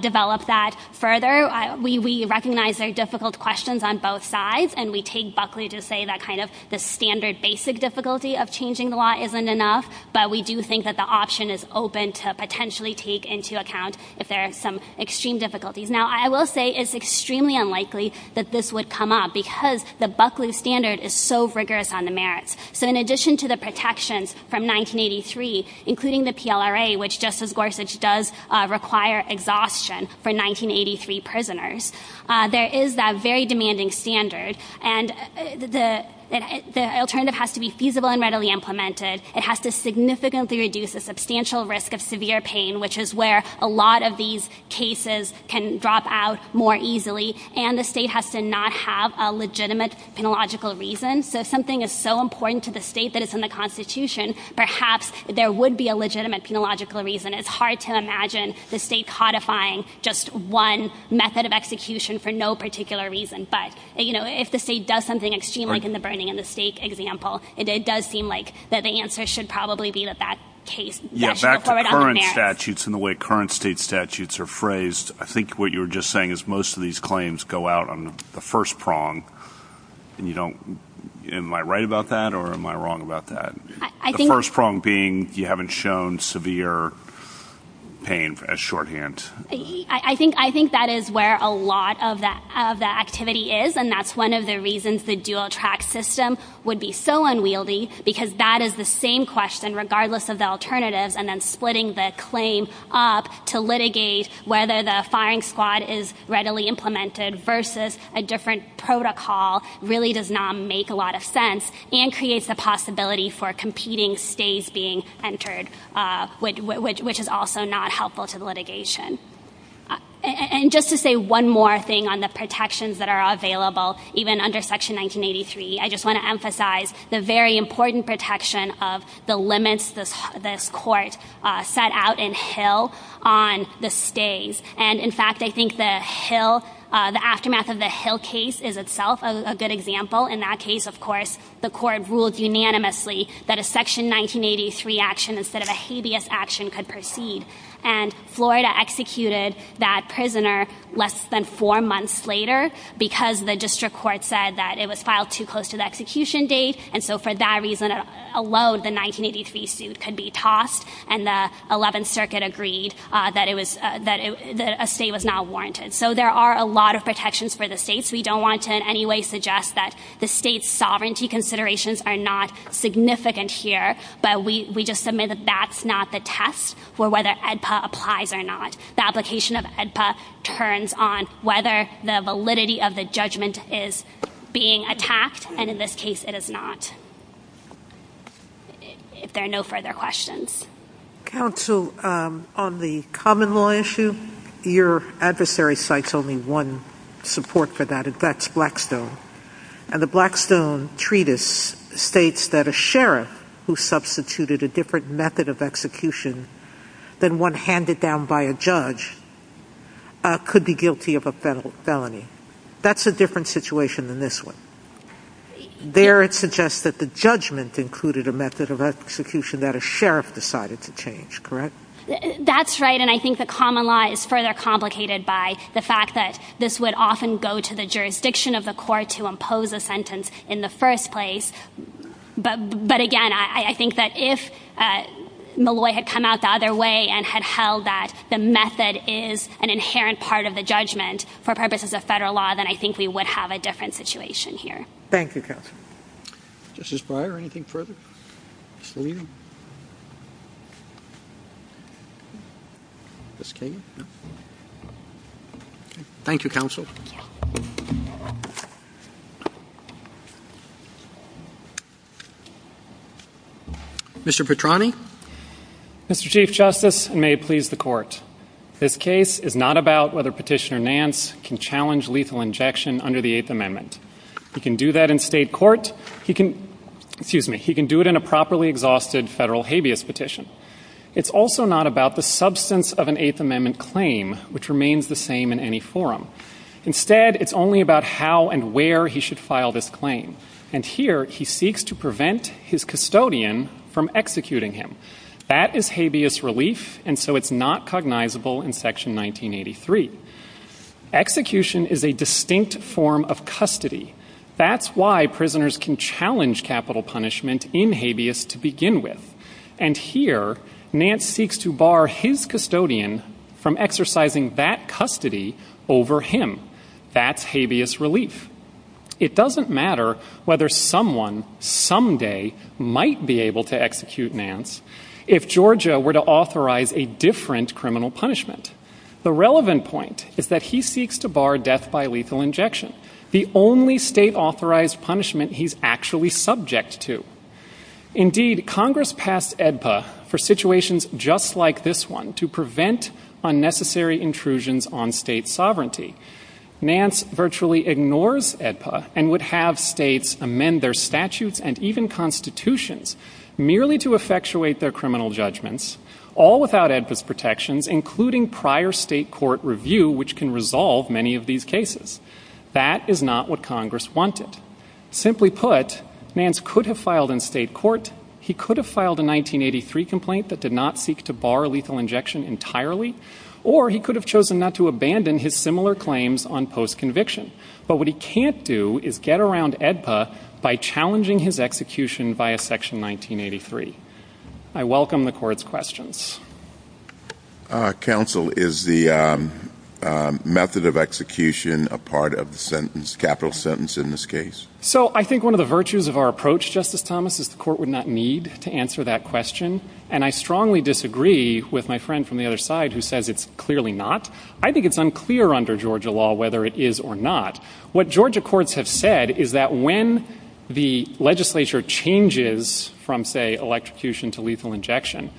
developed that further. We recognize there are difficult questions on both sides, and we take Bucklew to say that kind of the standard basic difficulty of changing the law isn't enough, but we do think that the option is open to potentially take into account that there are some extreme difficulties. Now, I will say it's extremely unlikely that this would come up, because the Bucklew standard is so rigorous on the merits. So in addition to the protections from 1983, including the PLRA, which Justice Gorsuch does require exhaustion for 1983 prisoners, there is that very demanding standard, and the alternative has to be feasible and readily implemented. It has to significantly reduce the substantial risk of severe pain, which is where a lot of these cases can drop out more easily, and the state has to not have a legitimate and logical reason. If something is so important to the state that it's in the Constitution, perhaps there would be a legitimate and logical reason. It's hard to imagine the state codifying just one method of execution for no particular reason. But, you know, if the state does something extreme like in the burning of the stake example, it does seem like that the answer should probably be that that case gets pulled forward on the merits. Yeah, back to current statutes and the way current state statutes are phrased, I think what you were just saying is most of these claims go out on the first prong. Am I right about that, or am I wrong about that? The first prong being you haven't shown severe pain at shorthand. I think that is where a lot of the activity is, and that's one of the reasons the dual track system would be so unwieldy, because that is the same question, regardless of the alternatives, and then splitting the claim up to litigate whether the firing squad is readily implemented versus a different protocol really does not make a lot of sense and creates a possibility for competing states being entered, which is also not helpful to the litigation. And just to say one more thing on the protections that are available, even under Section 1983, I just want to emphasize the very important protection of the limits that this court set out in Hill on the state. And, in fact, I think the aftermath of the Hill case is itself a good example. In that case, of course, the court ruled unanimously that a Section 1983 action instead of a habeas action could proceed, and Florida executed that prisoner less than four months later because the district court said that it was filed too close to the execution date, and so for that reason alone, the 1983 suit could be tossed, and the 11th Circuit agreed that a state was not warranted. So there are a lot of protections for the states. We don't want to in any way suggest that the state's sovereignty considerations are not significant here, but we just submit that that's not the test for whether AEDPA applies or not. The application of AEDPA turns on whether the validity of the judgment is being attacked, and in this case it is not. If there are no further questions. Counsel, on the common law issue, your adversary cites only one support for that, and that's Blackstone, and the Blackstone Treatise states that a sheriff who substituted a different method of execution than one handed down by a judge could be guilty of a felony. That's a different situation than this one. There it suggests that the judgment included a method of execution that a sheriff decided to change, correct? That's right, and I think the common law is further complicated by the fact that this would often go to the jurisdiction of the court to impose a sentence in the first place, but again, I think that if Malloy had come out the other way and had held that the method is an inherent part of the judgment for purposes of federal law, then I think we would have a different situation here. Thank you, Counsel. Justice Breyer, anything further? Thank you, Counsel. Mr. Petrani? Mr. Chief Justice, and may it please the Court, this case is not about whether Petitioner Nance can challenge lethal injection under the Eighth Amendment. He can do that in state court. He can do it in a properly exhausted federal habeas petition. It's also not about the substance of an Eighth Amendment claim, which remains the same in any forum. Instead, it's only about how and where he should file this claim, and here he seeks to prevent his custodian from executing him. That is habeas relief, and so it's not cognizable in Section 1983. Execution is a distinct form of custody. That's why prisoners can challenge capital punishment in habeas to begin with, and here Nance seeks to bar his custodian from exercising that custody over him. That's habeas relief. It doesn't matter whether someone someday might be able to execute Nance if Georgia were to authorize a different criminal punishment. The relevant point is that he seeks to bar death by lethal injection, the only state-authorized punishment he's actually subject to. Indeed, Congress passed AEDPA for situations just like this one to prevent unnecessary intrusions on state sovereignty. Nance virtually ignores AEDPA and would have states amend their statutes and even constitutions merely to effectuate their criminal judgments, all without AEDPA's protections, including prior state court review, which can resolve many of these cases. That is not what Congress wanted. Simply put, Nance could have filed in state court, he could have filed a 1983 complaint that did not seek to bar lethal injection entirely, or he could have chosen not to abandon his similar claims on post-conviction. But what he can't do is get around AEDPA by challenging his execution via Section 1983. I welcome the Court's questions. Counsel, is the method of execution a part of the capital sentence in this case? So I think one of the virtues of our approach, Justice Thomas, is the Court would not need to answer that question, and I strongly disagree with my friend from the other side who says it's clearly not. I think it's unclear under Georgia law whether it is or not. What Georgia courts have said is that when the legislature changes from, say, electrocution to lethal injection,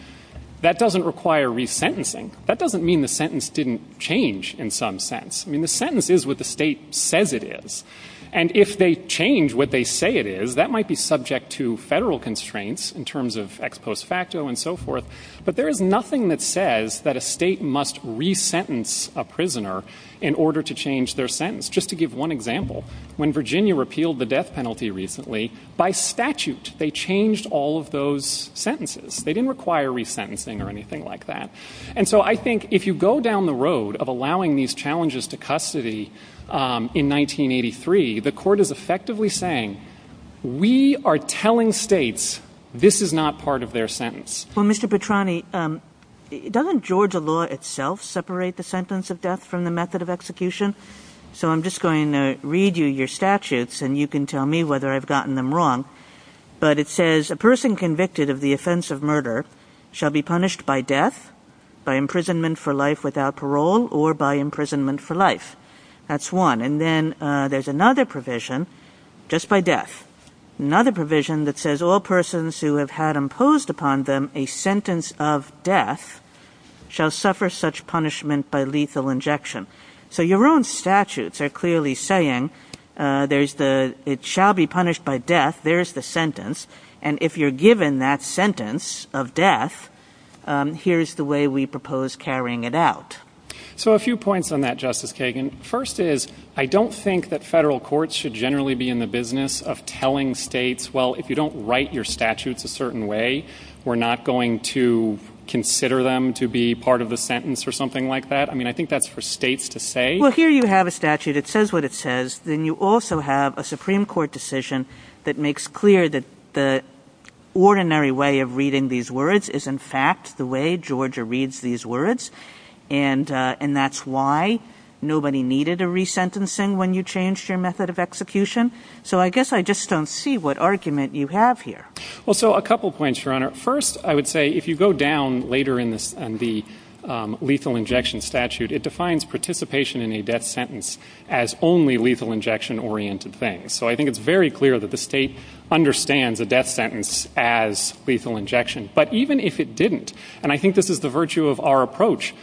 that doesn't require resentencing. That doesn't mean the sentence didn't change in some sense. I mean, the sentence is what the state says it is. And if they change what they say it is, that might be subject to federal constraints in terms of ex post facto and so forth, but there is nothing that says that a state must resentence a prisoner in order to change their sentence. Just to give one example, when Virginia repealed the death penalty recently, by statute they changed all of those sentences. They didn't require resentencing or anything like that. And so I think if you go down the road of allowing these challenges to custody in 1983, the court is effectively saying we are telling states this is not part of their sentence. Well, Mr. Petrani, doesn't Georgia law itself separate the sentence of death from the method of execution? So I'm just going to read you your statutes, and you can tell me whether I've gotten them wrong, but it says a person convicted of the offense of murder shall be punished by death, by imprisonment for life without parole, or by imprisonment for life. That's one. And then there's another provision, just by death. Another provision that says all persons who have had imposed upon them a sentence of death shall suffer such punishment by lethal injection. So your own statutes are clearly saying it shall be punished by death, there's the sentence, and if you're given that sentence of death, here's the way we propose carrying it out. So a few points on that, Justice Kagan. First is I don't think that federal courts should generally be in the business of telling states, well, if you don't write your statutes a certain way, we're not going to consider them to be part of the sentence or something like that. I mean, I think that's for states to say. Well, here you have a statute. It says what it says. Then you also have a Supreme Court decision that makes clear that the ordinary way of reading these words is in fact the way Georgia reads these words, and that's why nobody needed a resentencing when you changed your method of execution. So I guess I just don't see what argument you have here. Well, so a couple points, Your Honor. First, I would say if you go down later in the lethal injection statute, it defines participation in a death sentence as only lethal injection-oriented things. So I think it's very clear that the state understands a death sentence as lethal injection. But even if it didn't, and I think this is the virtue of our approach,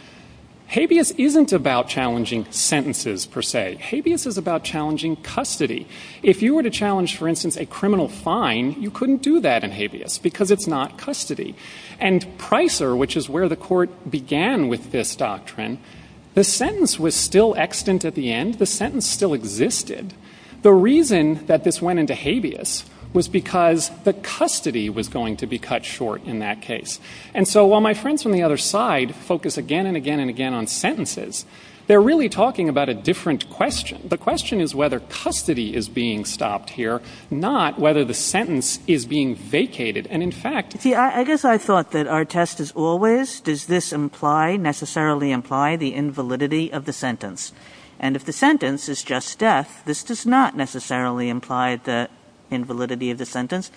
habeas isn't about challenging sentences per se. Habeas is about challenging custody. If you were to challenge, for instance, a criminal fine, you couldn't do that in habeas because it's not custody. And Pricer, which is where the court began with this doctrine, the sentence was still extant at the end. The sentence still existed. The reason that this went into habeas was because the custody was going to be cut short in that case. And so while my friends on the other side focus again and again and again on sentences, they're really talking about a different question. The question is whether custody is being stopped here, not whether the sentence is being vacated. And in fact- See, I guess I thought that our test is always, does this necessarily imply the invalidity of the sentence? And if the sentence is just death, this does not necessarily imply the invalidity of the sentence.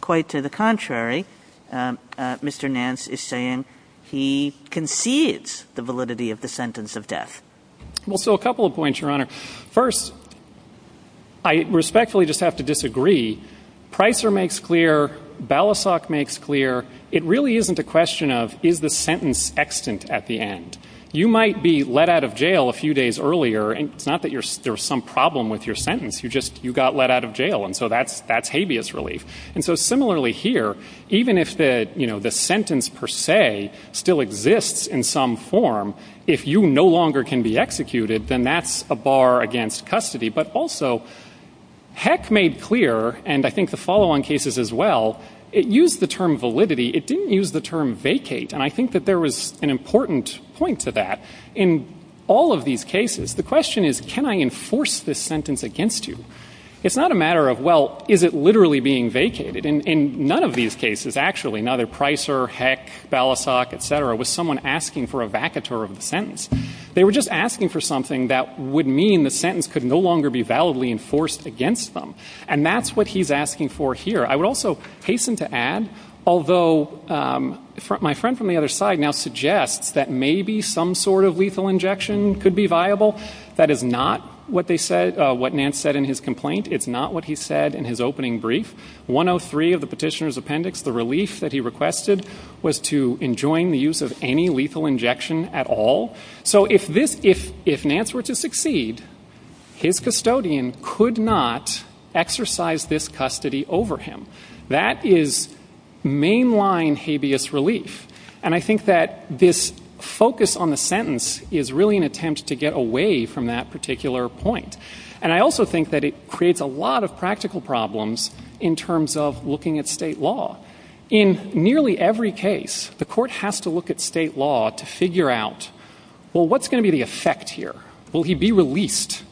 Quite to the contrary, Mr. Nance is saying he conceives the validity of the sentence of death. Well, so a couple of points, Your Honor. First, I respectfully just have to disagree. Pricer makes clear, Balasag makes clear, it really isn't a question of is the sentence extant at the end. You might be let out of jail a few days earlier, and it's not that there's some problem with your sentence. You just got let out of jail, and so that's habeas relief. And so similarly here, even if the sentence per se still exists in some form, if you no longer can be executed, then that's a bar against custody. But also, Heck made clear, and I think the follow-on cases as well, it used the term validity. It didn't use the term vacate. And I think that there was an important point to that. In all of these cases, the question is, can I enforce this sentence against you? It's not a matter of, well, is it literally being vacated? In none of these cases, actually, neither Pricer, Heck, Balasag, et cetera, was someone asking for a vacateur of the sentence. They were just asking for something that would mean the sentence could no longer be validly enforced against them. And that's what he's asking for here. I would also hasten to add, although my friend from the other side now suggests that maybe some sort of lethal injection could be viable. That is not what they said, what Nance said in his complaint. It's not what he said in his opening brief. 103 of the petitioner's appendix, the release that he requested, was to enjoin the use of any lethal injection at all. So if Nance were to succeed, his custodian could not exercise this custody over him. That is mainline habeas relief. And I think that this focus on the sentence is really an attempt to get away from that particular point. And I also think that it creates a lot of practical problems in terms of looking at state law. In nearly every case, the court has to look at state law to figure out, well, what's going to be the effect here? Will he be released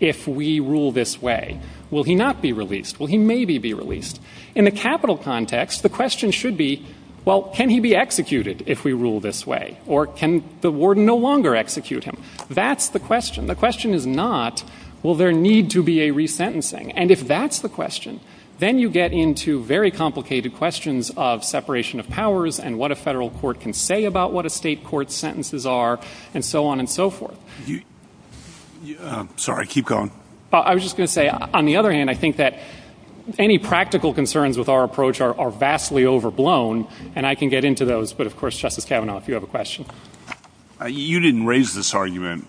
if we rule this way? Will he not be released? Will he maybe be released? In the capital context, the question should be, well, can he be executed if we rule this way? Or can the warden no longer execute him? That's the question. The question is not, will there need to be a resentencing? And if that's the question, then you get into very complicated questions of separation of powers and what a federal court can say about what a state court's sentences are, and so on and so forth. I'm sorry. Keep going. I was just going to say, on the other hand, I think that any practical concerns with our approach are vastly overblown. And I can get into those. But, of course, Justice Kavanaugh, if you have a question. You didn't raise this argument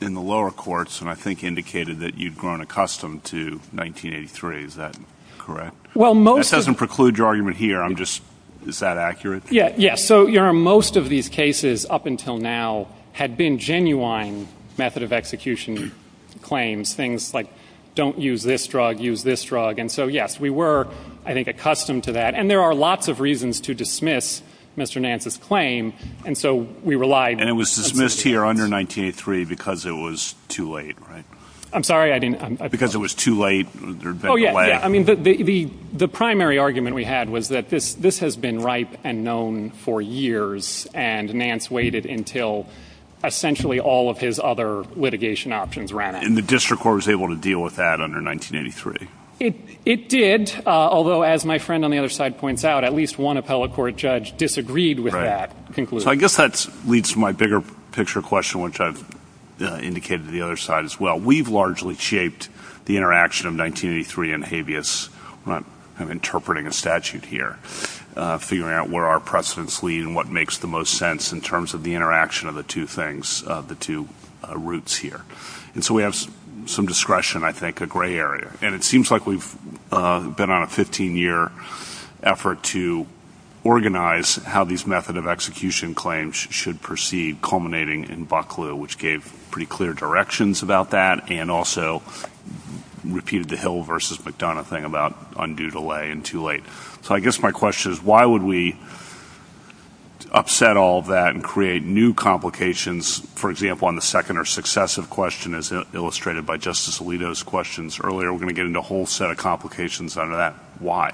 in the lower courts and I think indicated that you've grown accustomed to 1983. Is that correct? That doesn't preclude your argument here. I'm just, is that accurate? Yes. So most of these cases up until now had been genuine method of execution claims, things like don't use this drug, use this drug. And so, yes, we were, I think, accustomed to that. And there are lots of reasons to dismiss Mr. Nance's claim. And so we relied. And it was dismissed here under 1983 because it was too late, right? I'm sorry, I didn't. Because it was too late. Oh, yeah, yeah. I mean, the primary argument we had was that this has been ripe and known for years and Nance waited until essentially all of his other litigation options ran out. And the district court was able to deal with that under 1983. It did, although, as my friend on the other side points out, at least one appellate court judge disagreed with that conclusion. So I guess that leads to my bigger picture question, which I've indicated to the other side as well. We've largely shaped the interaction of 1983 and habeas. I'm interpreting a statute here, figuring out where our precedents lead and what makes the most sense in terms of the interaction of the two things, the two roots here. And so we have some discretion, I think, in the gray area. And it seems like we've been on a 15-year effort to organize how these method of execution claims should proceed, culminating in Bucklew, which gave pretty clear directions about that and also repeated the Hill v. McDonough thing about undue delay and too late. So I guess my question is why would we upset all that and create new complications, for example, on the second or successive question as illustrated by Justice Alito's questions earlier? We're going to get into a whole set of complications under that. Why?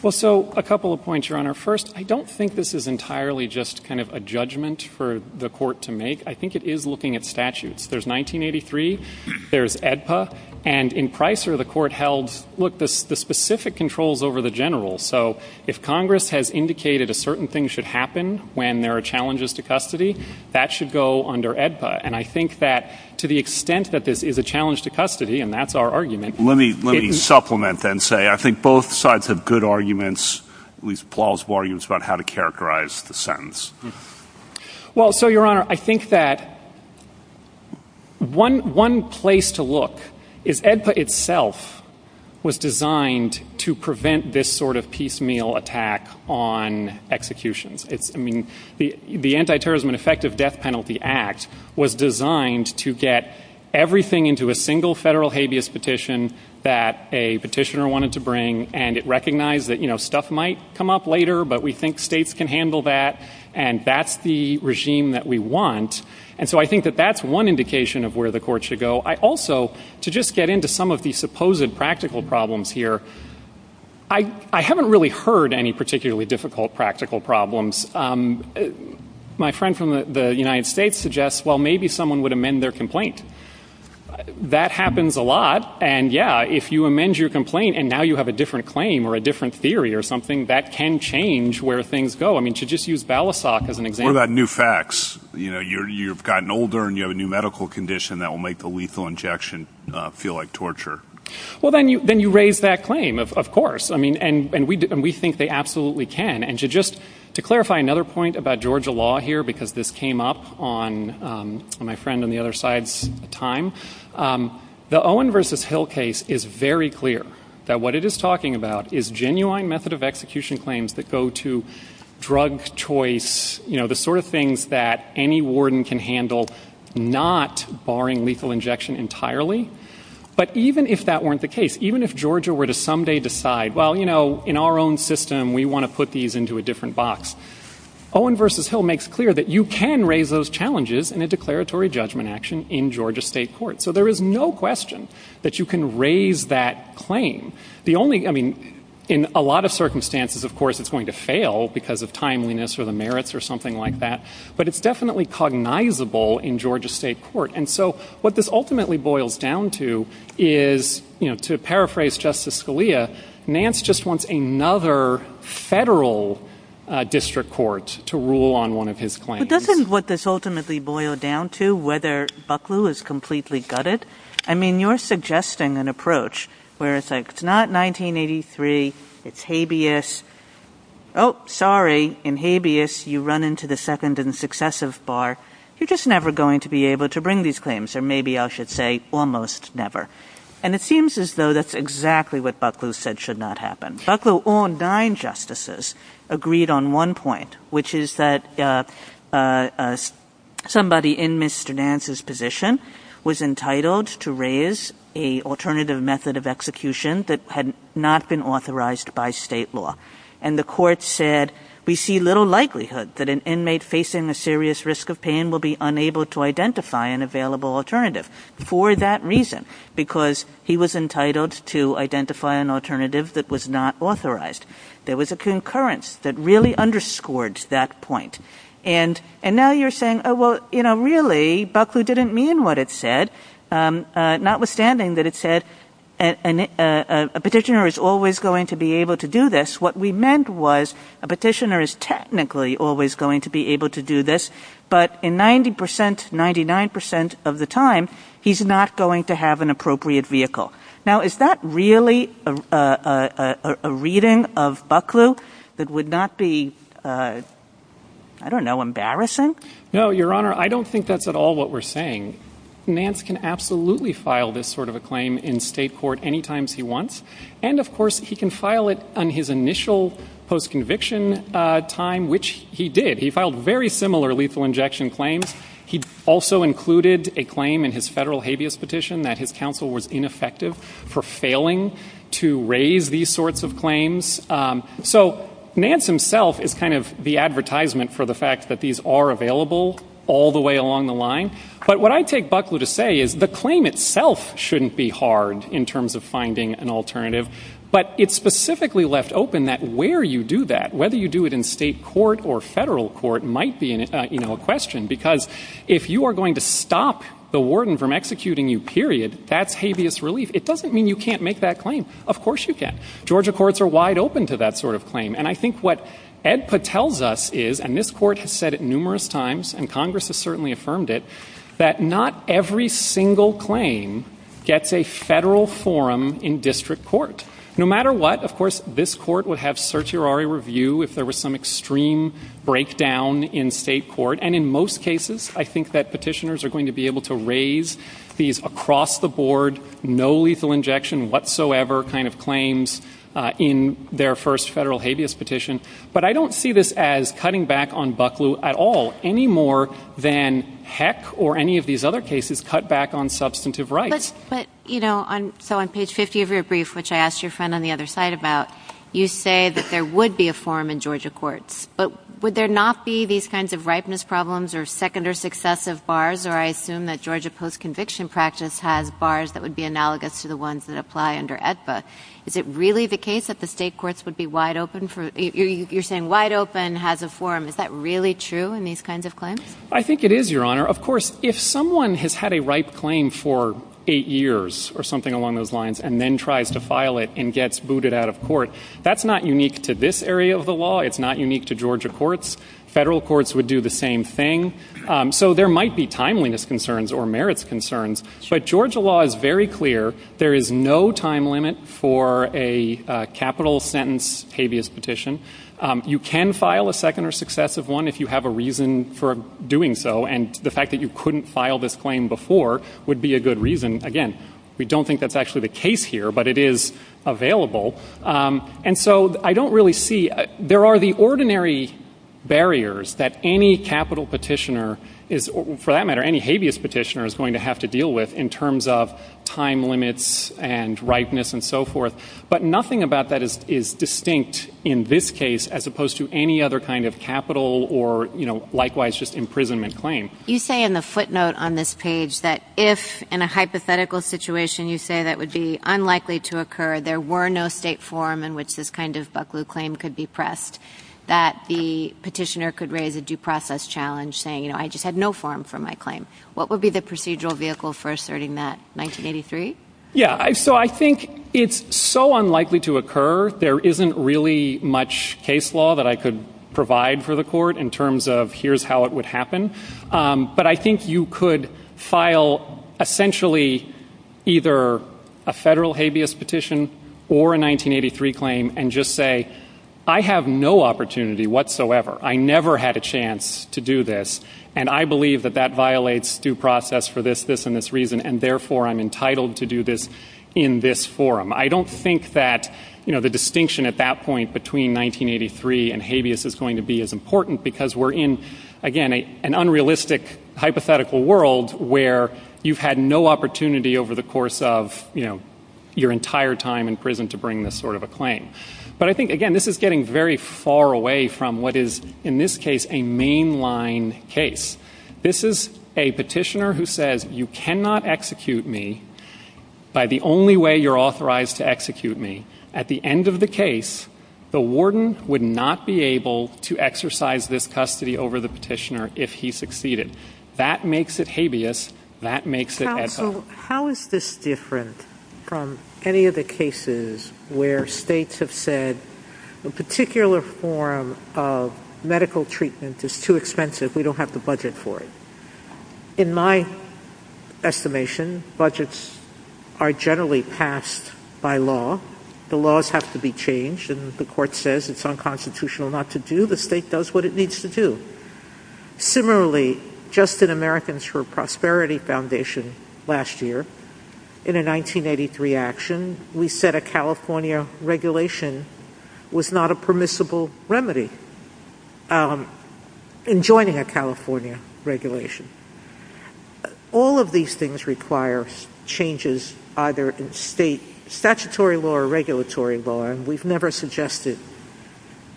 Well, so a couple of points, Your Honor. First, I don't think this is entirely just kind of a judgment for the court to make. I think it is looking at statutes. There's 1983. There's AEDPA. And in Pricer, the court held, look, the specific controls over the general. So if Congress has indicated a certain thing should happen when there are challenges to custody, that should go under AEDPA. And I think that to the extent that this is a challenge to custody, and that's our argument, let me supplement and say I think both sides have good arguments, at least plausible arguments, about how to characterize the sentence. Well, so, Your Honor, I think that one place to look is AEDPA itself was designed to prevent this sort of piecemeal attack on execution. I mean, the Antiterrorism and Effective Death Penalty Act was designed to get everything into a single federal habeas petition that a petitioner wanted to bring, and it recognized that, you know, stuff might come up later, but we think states can handle that, and that's the regime that we want. And so I think that that's one indication of where the court should go. Also, to just get into some of the supposed practical problems here, I haven't really heard any particularly difficult practical problems. My friend from the United States suggests, well, maybe someone would amend their complaint. That happens a lot, and, yeah, if you amend your complaint and now you have a different claim or a different theory or something, that can change where things go. I mean, to just use Balasag as an example. What about new facts? You know, you've gotten older and you have a new medical condition that will make the lethal injection feel like torture. Well, then you raise that claim, of course, and we think they absolutely can. And just to clarify another point about Georgia law here, because this came up on my friend on the other side's time, the Owen v. Hill case is very clear that what it is talking about is genuine method of execution claims that go to drug choice, you know, the sort of things that any warden can handle not barring lethal injection entirely. But even if that weren't the case, even if Georgia were to someday decide, well, you know, in our own system, we want to put these into a different box, Owen v. Hill makes clear that you can raise those challenges in a declaratory judgment action in Georgia state court. So there is no question that you can raise that claim. I mean, in a lot of circumstances, of course, it's going to fail because of timeliness or the merits or something like that, but it's definitely cognizable in Georgia state court. And so what this ultimately boils down to is, you know, to paraphrase Justice Scalia, Nance just wants another federal district court to rule on one of his claims. But doesn't what this ultimately boils down to whether Bucklew is completely gutted? I mean, you're suggesting an approach where it's like it's not 1983, it's habeas. Oh, sorry, in habeas, you run into the second and successive bar. You're just never going to be able to bring these claims, or maybe I should say almost never. And it seems as though that's exactly what Bucklew said should not happen. Bucklew on nine justices agreed on one point, which is that somebody in Mr. Nance's position was entitled to raise an alternative method of execution that had not been authorized by state law. And the court said, we see little likelihood that an inmate facing a serious risk of pain will be unable to identify an available alternative for that reason, because he was entitled to identify an alternative that was not authorized. There was a concurrence that really underscored that point. And now you're saying, oh, well, you know, really, Bucklew didn't mean what it said, notwithstanding that it said a petitioner is always going to be able to do this. What we meant was a petitioner is technically always going to be able to do this. But in 90 percent, 99 percent of the time, he's not going to have an appropriate vehicle. Now, is that really a reading of Bucklew that would not be, I don't know, embarrassing? No, Your Honor, I don't think that's at all what we're saying. Nance can absolutely file this sort of a claim in state court any time he wants. And, of course, he can file it on his initial postconviction time, which he did. He filed very similar lethal injection claims. He also included a claim in his federal habeas petition that his counsel was ineffective for failing to raise these sorts of claims. So Nance himself is kind of the advertisement for the fact that these are available all the way along the line. But what I take Bucklew to say is the claim itself shouldn't be hard in terms of finding an alternative. But it's specifically left open that where you do that, whether you do it in state court or federal court, it might be a question because if you are going to stop the warden from executing you, period, that's habeas relief. It doesn't mean you can't make that claim. Of course you can. Georgia courts are wide open to that sort of claim. And I think what EDPA tells us is, and this court has said it numerous times, and Congress has certainly affirmed it, that not every single claim gets a federal forum in district court. No matter what, of course, this court would have certiorari review if there was some extreme breakdown in state court. And in most cases, I think that petitioners are going to be able to raise these across the board, no lethal injection whatsoever kind of claims in their first federal habeas petition. But I don't see this as cutting back on Bucklew at all, any more than Heck or any of these other cases cut back on substantive rights. But, you know, so on page 50 of your brief, which I asked your friend on the other side about, you say that there would be a forum in Georgia courts. But would there not be these kinds of ripeness problems or second or successive bars? Or I assume that Georgia post-conviction practice has bars that would be analogous to the ones that apply under EDPA. Is it really the case that the state courts would be wide open? You're saying wide open has a forum. Is that really true in these kinds of claims? I think it is, Your Honor. Of course, if someone has had a ripe claim for eight years or something along those lines and then tries to file it and gets booted out of court, that's not unique to this area of the law. It's not unique to Georgia courts. Federal courts would do the same thing. So there might be timeliness concerns or merits concerns. But Georgia law is very clear. There is no time limit for a capital sentence habeas petition. You can file a second or successive one if you have a reason for doing so. And the fact that you couldn't file this claim before would be a good reason. Again, we don't think that's actually the case here, but it is available. And so I don't really see – there are the ordinary barriers that any capital petitioner is – for that matter, any habeas petitioner is going to have to deal with in terms of time limits and ripeness and so forth. But nothing about that is distinct in this case as opposed to any other kind of capital or, you know, likewise just imprisonment claim. You say in the footnote on this page that if in a hypothetical situation you say that would be unlikely to occur, there were no state form in which this kind of Bucklew claim could be pressed, that the petitioner could raise a due process challenge saying, you know, I just had no form for my claim. What would be the procedural vehicle for asserting that, 1983? Yeah. So I think it's so unlikely to occur. There isn't really much case law that I could provide for the court in terms of here's how it would happen. But I think you could file essentially either a federal habeas petition or a 1983 claim and just say, I have no opportunity whatsoever. I never had a chance to do this, and I believe that that violates due process for this, this, and this reason, and therefore I'm entitled to do this in this forum. I don't think that, you know, the distinction at that point between 1983 and habeas is going to be as important because we're in, again, an unrealistic hypothetical world where you've had no opportunity over the course of, you know, your entire time in prison to bring this sort of a claim. But I think, again, this is getting very far away from what is in this case a mainline case. This is a petitioner who says, you cannot execute me by the only way you're authorized to execute me. At the end of the case, the warden would not be able to exercise this custody over the petitioner if he succeeded. That makes it habeas. That makes it ethical. So how is this different from any of the cases where states have said, a particular form of medical treatment is too expensive. We don't have the budget for it. In my estimation, budgets are generally passed by law. The laws have to be changed, and the court says it's unconstitutional not to do. The state does what it needs to do. Similarly, just in Americans for Prosperity Foundation last year, in a 1983 action, we said a California regulation was not a permissible remedy in joining a California regulation. All of these things require changes either in state statutory law or regulatory law, and we've never suggested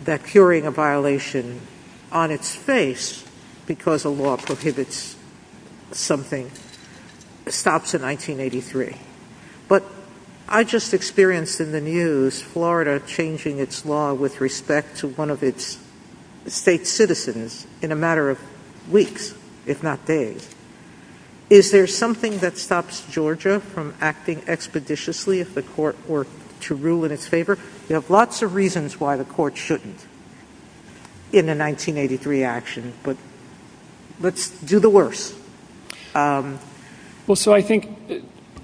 that curing a violation on its face because a law prohibits something stops in 1983. But I just experienced in the news Florida changing its law with respect to one of its state citizens in a matter of weeks, if not days. Is there something that stops Georgia from acting expeditiously if the court were to rule in its favor? You have lots of reasons why the court shouldn't in the 1983 action, but let's do the worst. Well, so I think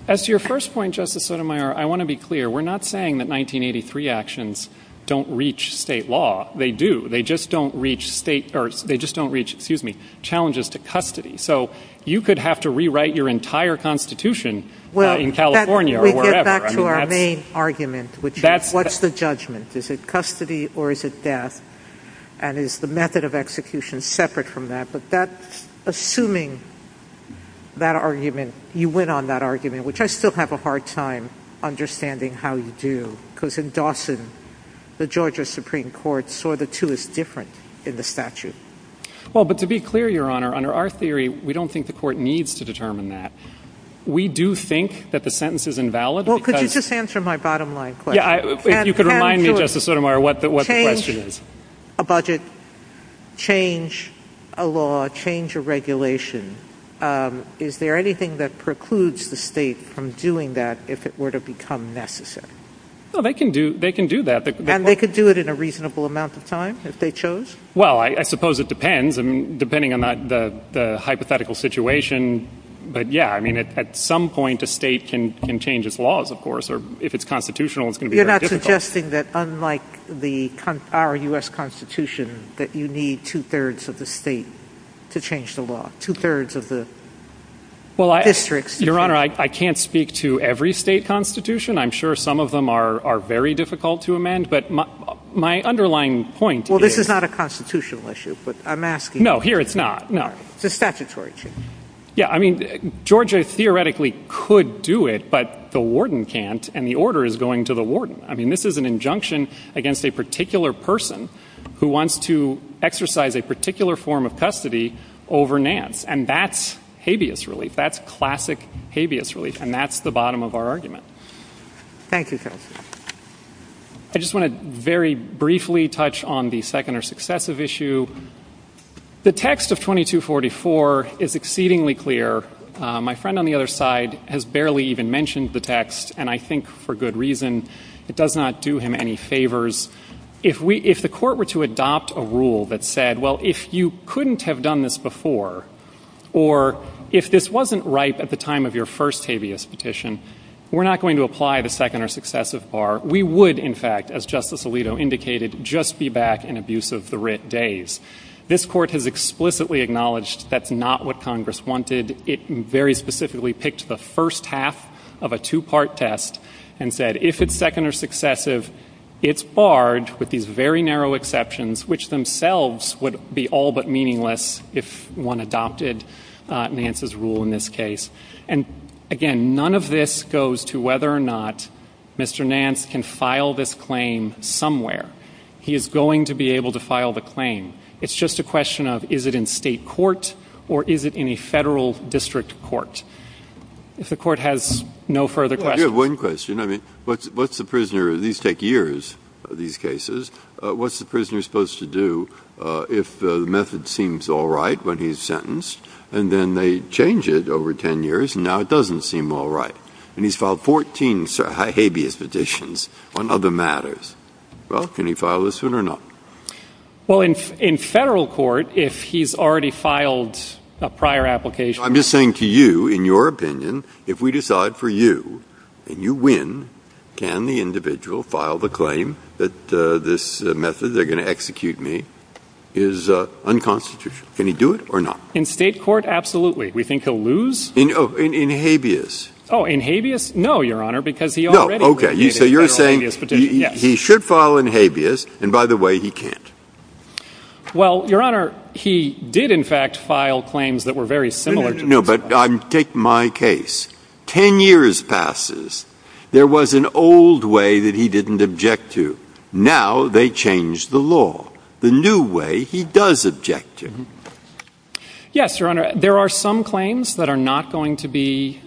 as to your first point, Justice Sotomayor, I want to be clear. We're not saying that 1983 actions don't reach state law. They do. They just don't reach challenges to custody. So you could have to rewrite your entire Constitution in California or wherever. We get back to our main argument, which is what's the judgment? Is it custody or is it death, and is the method of execution separate from that? Assuming that argument, you win on that argument, which I still have a hard time understanding how you do, because in Dawson, the Georgia Supreme Court saw the two as different in the statute. Well, but to be clear, Your Honor, under our theory, we don't think the court needs to determine that. We do think that the sentence is invalid. Well, could you just answer my bottom line question? Yeah, if you could remind me, Justice Sotomayor, what the question is. A budget change, a law change, a regulation, is there anything that precludes the state from doing that if it were to become necessary? Well, they can do that. And they could do it in a reasonable amount of time if they chose? Well, I suppose it depends, depending on the hypothetical situation. But, yeah, I mean, at some point a state can change its laws, of course, suggesting that unlike our U.S. Constitution, that you need two-thirds of the state to change the law, two-thirds of the districts. Well, Your Honor, I can't speak to every state constitution. I'm sure some of them are very difficult to amend. But my underlying point is Well, this is not a constitutional issue, but I'm asking No, here it's not, no. It's a statutory issue. Yeah, I mean, Georgia theoretically could do it, but the warden can't, and the order is going to the warden. I mean, this is an injunction against a particular person who wants to exercise a particular form of custody over Nance. And that's habeas relief. That's classic habeas relief. And that's the bottom of our argument. Thank you, sir. I just want to very briefly touch on the second or successive issue. The text of 2244 is exceedingly clear. My friend on the other side has barely even mentioned the text, and I think for good reason. It does not do him any favors. If the court were to adopt a rule that said, well, if you couldn't have done this before, or if this wasn't right at the time of your first habeas petition, we're not going to apply the second or successive bar. We would, in fact, as Justice Alito indicated, just be back in abusive days. This court has explicitly acknowledged that's not what Congress wanted. It very specifically picked the first half of a two-part test and said, if it's second or successive, it's barred with these very narrow exceptions, which themselves would be all but meaningless if one adopted Nance's rule in this case. And, again, none of this goes to whether or not Mr. Nance can file this claim somewhere. He is going to be able to file the claim. It's just a question of is it in state court or is it in a federal district court. If the court has no further questions. We have one question. I mean, what's the prisoner of these take years, these cases? What's the prisoner supposed to do if the method seems all right when he's sentenced, and then they change it over 10 years and now it doesn't seem all right? And he's filed 14 habeas petitions on other matters. Well, can he file this one or not? Well, in federal court, if he's already filed a prior application. I'm just saying to you, in your opinion, if we decide for you and you win, can the individual file the claim that this method they're going to execute me is unconstitutional? Can he do it or not? In state court? Absolutely. We think he'll lose. In habeas? Oh, in habeas? No, Your Honor, because he already. Okay, so you're saying he should file in habeas. And by the way, he can't. Well, Your Honor, he did, in fact, file claims that were very similar. No, but take my case. Ten years passes. There was an old way that he didn't object to. Now they changed the law. The new way he does object to. Yes, Your Honor. There are some claims that are not going to be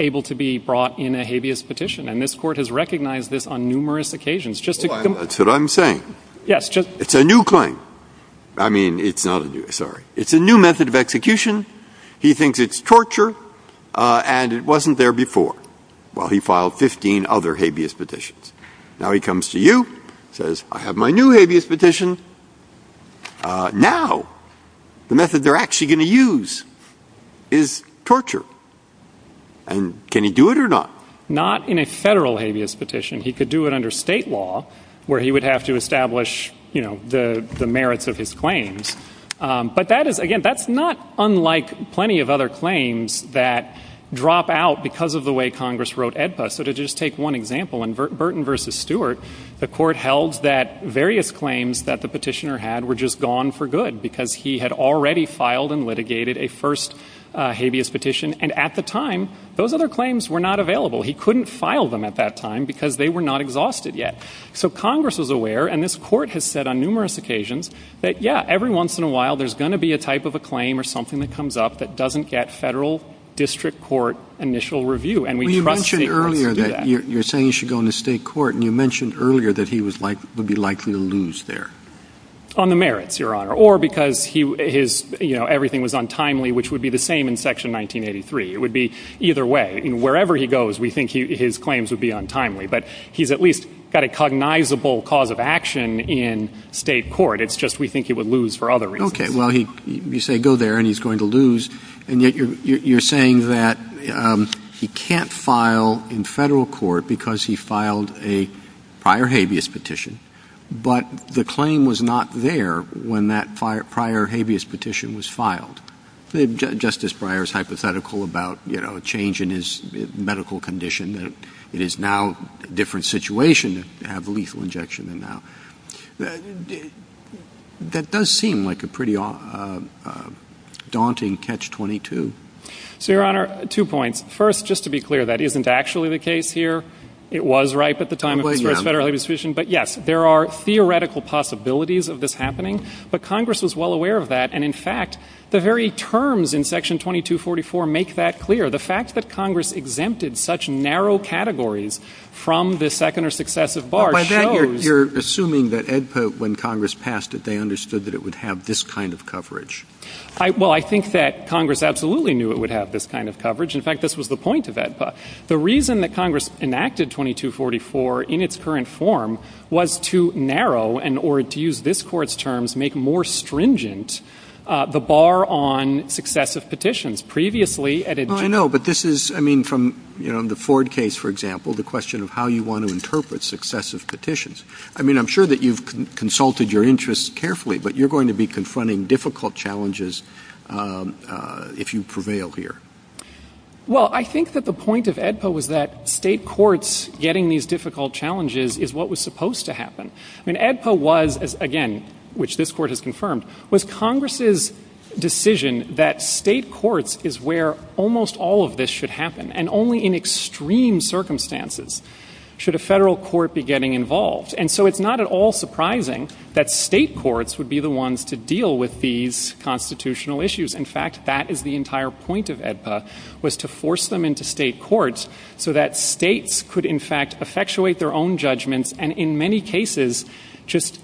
able to be brought in a habeas petition. And this Court has recognized this on numerous occasions. That's what I'm saying. Yes. It's a new claim. I mean, it's not a new, sorry. It's a new method of execution. He thinks it's torture, and it wasn't there before. Well, he filed 15 other habeas petitions. Now he comes to you, says, I have my new habeas petition. Now the method they're actually going to use is torture. And can he do it or not? Not in a federal habeas petition. He could do it under state law where he would have to establish, you know, the merits of his claims. But that is, again, that's not unlike plenty of other claims that drop out because of the way Congress wrote AEDPA. So to just take one example, in Burton v. Stewart, the Court held that various claims that the petitioner had were just gone for good because he had already filed and litigated a first habeas petition. And at the time, those other claims were not available. He couldn't file them at that time because they were not exhausted yet. So Congress was aware, and this Court has said on numerous occasions, that, yeah, every once in a while there's going to be a type of a claim or something that comes up that doesn't get federal district court initial review. And we trust people to do that. You mentioned earlier that you're saying he should go into state court, and you mentioned earlier that he would be likely to lose there. On the merits, Your Honor. Or because his, you know, everything was untimely, which would be the same in Section 1983. It would be either way. And wherever he goes, we think his claims would be untimely. But he's at least got a cognizable cause of action in state court. It's just we think he would lose for other reasons. Okay. Well, you say go there and he's going to lose, and yet you're saying that he can't file in federal court because he filed a prior habeas petition, but the claim was not there when that prior habeas petition was filed. Justice Breyer's hypothetical about, you know, a change in his medical condition, that it is now a different situation to have a lethal injection than now. That does seem like a pretty daunting catch-22. So, Your Honor, two points. First, just to be clear, that isn't actually the case here. It was ripe at the time of the first federal habeas petition. But, yes, there are theoretical possibilities of this happening. But Congress was well aware of that. And, in fact, the very terms in Section 2244 make that clear. The fact that Congress exempted such narrow categories from the second or successive bar shows. You're assuming that when Congress passed it, they understood that it would have this kind of coverage. Well, I think that Congress absolutely knew it would have this kind of coverage. In fact, this was the point of it. The reason that Congress enacted 2244 in its current form was to narrow and, or to use this Court's terms, make more stringent the bar on successive petitions. Previously, at a- I know, but this is, I mean, from, you know, the Ford case, for example, the question of how you want to interpret successive petitions. I mean, I'm sure that you've consulted your interests carefully, but you're going to be confronting difficult challenges if you prevail here. Well, I think that the point of AEDPA was that state courts getting these difficult challenges is what was supposed to happen. And AEDPA was, again, which this Court has confirmed, was Congress's decision that state courts is where almost all of this should happen and only in extreme circumstances should a federal court be getting involved. And so it's not at all surprising that state courts would be the ones to deal with these constitutional issues. In fact, that is the entire point of AEDPA, was to force them into state courts so that states could, in fact, effectuate their own judgments and in many cases just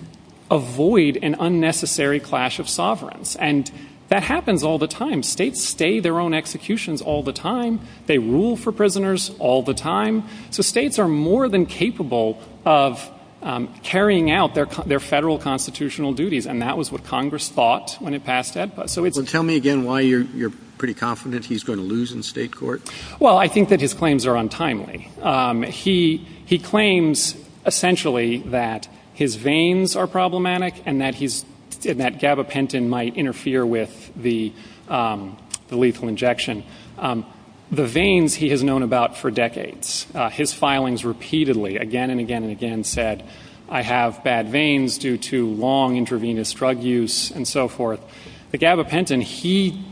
avoid an unnecessary clash of sovereigns. And that happens all the time. States stay their own executions all the time. They rule for prisoners all the time. So states are more than capable of carrying out their federal constitutional duties, and that was what Congress thought when it passed AEDPA. So tell me again why you're pretty confident he's going to lose in state court. Well, I think that his claims are untimely. He claims essentially that his veins are problematic and that gabapentin might interfere with the lethal injection. The veins he has known about for decades. His filings repeatedly, again and again and again, said, I have bad veins due to long intravenous drug use and so forth. The gabapentin, he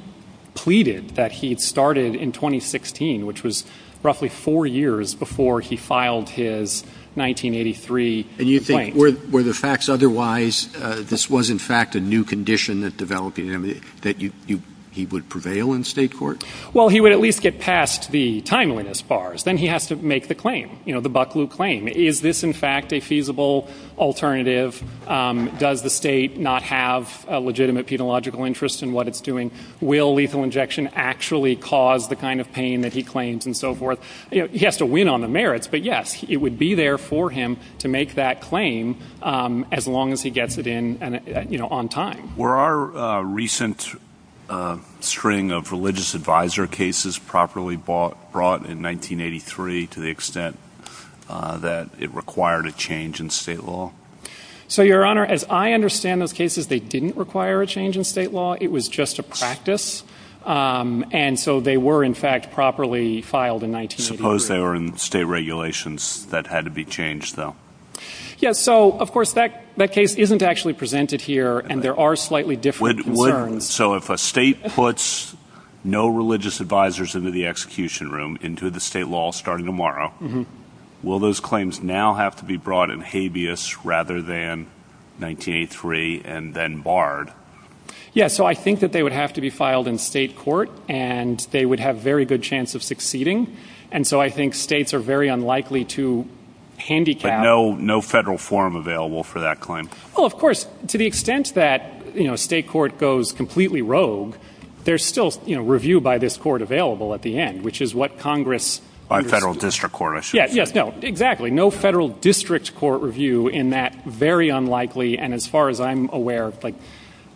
pleaded that he started in 2016, which was roughly four years before he filed his 1983 claim. And you think were the facts otherwise, this was, in fact, a new condition that developed in him, that he would prevail in state court? Well, he would at least get past the timeliness bars. Then he has to make the claim, you know, the Bucklew claim. Is this, in fact, a feasible alternative? Does the state not have a legitimate penological interest in what it's doing? Will lethal injection actually cause the kind of pain that he claims and so forth? He has to win on the merits, but, yes, it would be there for him to make that claim as long as he gets it in on time. Were our recent string of religious advisor cases properly brought in 1983 to the extent that it required a change in state law? So, Your Honor, as I understand those cases, they didn't require a change in state law. It was just a practice, and so they were, in fact, properly filed in 1983. Suppose they were in state regulations that had to be changed, though. Yes, so, of course, that case isn't actually presented here, and there are slightly different concerns. So if a state puts no religious advisors into the execution room, into the state law starting tomorrow, will those claims now have to be brought in habeas rather than 1983 and then barred? Yes, so I think that they would have to be filed in state court, and they would have very good chance of succeeding, and so I think states are very unlikely to handicap. But no federal form available for that claim? Well, of course, to the extent that, you know, state court goes completely rogue, there's still, you know, review by this court available at the end, which is what Congress— By federal district court, I should assume. Yes, yes, no, exactly. No federal district court review in that very unlikely, and as far as I'm aware, like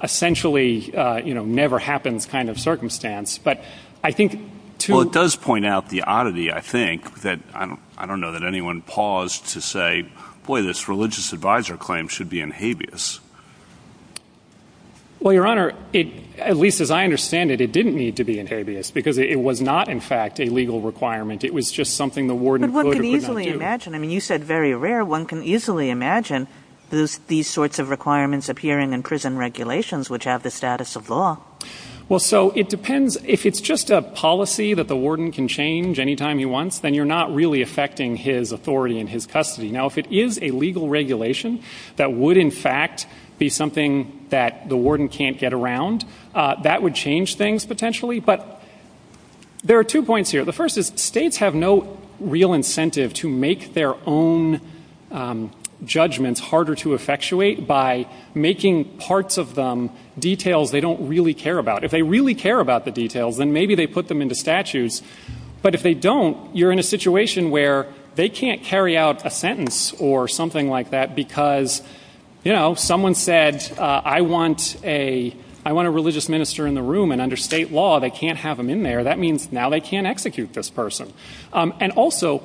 essentially, you know, never happens kind of circumstance. But I think to— Well, it does point out the oddity, I think, that I don't know that anyone paused to say, boy, this religious advisor claim should be in habeas. Well, Your Honor, at least as I understand it, it didn't need to be in habeas because it was not, in fact, a legal requirement. It was just something the warden could or could not do. But one could easily imagine. I mean, you said very rare. One can easily imagine these sorts of requirements appearing in prison regulations, which have the status of law. Well, so it depends. If it's just a policy that the warden can change anytime he wants, then you're not really affecting his authority and his custody. Now, if it is a legal regulation that would, in fact, be something that the warden can't get around, that would change things potentially. But there are two points here. The first is states have no real incentive to make their own judgments harder to effectuate by making parts of them details they don't really care about. If they really care about the details, then maybe they put them into statutes. But if they don't, you're in a situation where they can't carry out a sentence or something like that because, you know, someone said, I want a religious minister in the room. And under state law, they can't have him in there. That means now they can't execute this person. And also,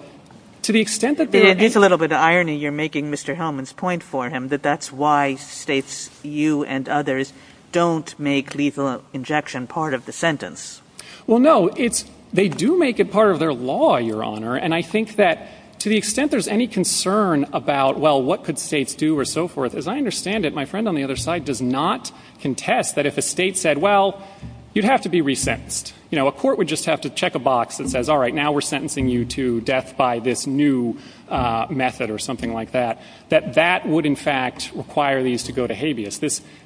to the extent that they're going to do that. It's a little bit of irony you're making Mr. Hellman's point for him, that that's why states, you and others, don't make lethal injection part of the sentence. Well, no, they do make it part of their law, Your Honor. And I think that to the extent there's any concern about, well, what could states do or so forth, as I understand it, my friend on the other side does not contest that if a state said, well, you'd have to be resentenced. You know, a court would just have to check a box that says, all right, now we're sentencing you to death by this new method or something like that, that that would, in fact, require these to go to habeas.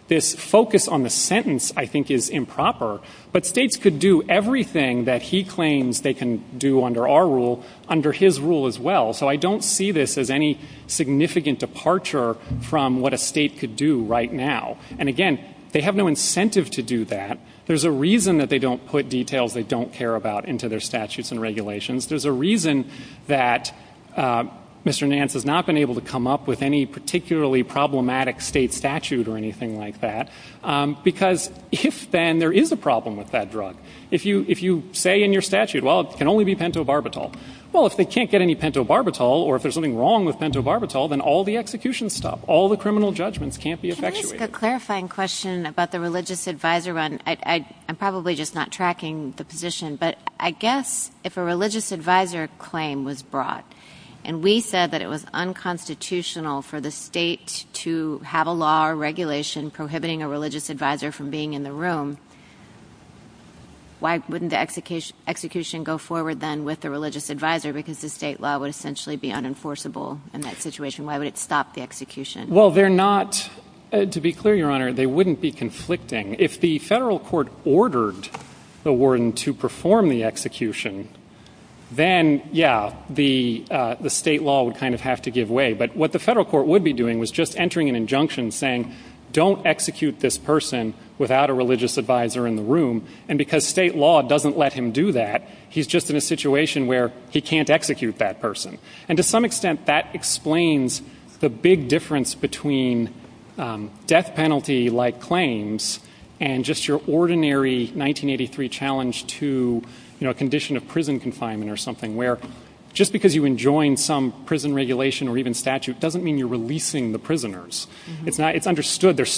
This focus on the sentence, I think, is improper. But states could do everything that he claims they can do under our rule under his rule as well. So I don't see this as any significant departure from what a state could do right now. And, again, they have no incentive to do that. There's a reason that they don't put details they don't care about into their statutes and regulations. There's a reason that Mr. Nance has not been able to come up with any particularly problematic state statute or anything like that, because if then there is a problem with that drug. If you say in your statute, well, it can only be pentobarbital, well, if they can't get any pentobarbital or if there's something wrong with pentobarbital, then all the executions stop, all the criminal judgments can't be effectuated. Can I ask a clarifying question about the religious advisor, Ron? I'm probably just not tracking the position, but I guess if a religious advisor claim was brought and we said that it was unconstitutional for the state to have a law or regulation prohibiting a religious advisor from being in the room, why wouldn't the execution go forward then with the religious advisor, because the state law would essentially be unenforceable in that situation? Why would it stop the execution? Well, they're not, to be clear, Your Honor, they wouldn't be conflicting. If the federal court ordered the warden to perform the execution, then, yeah, the state law would kind of have to give way. But what the federal court would be doing was just entering an injunction saying, don't execute this person without a religious advisor in the room, and because state law doesn't let him do that, he's just in a situation where he can't execute that person. And to some extent that explains the big difference between death penalty-like claims and just your ordinary 1983 challenge to a condition of prison confinement or something, where just because you enjoined some prison regulation or even statute doesn't mean you're releasing the prisoners. Whereas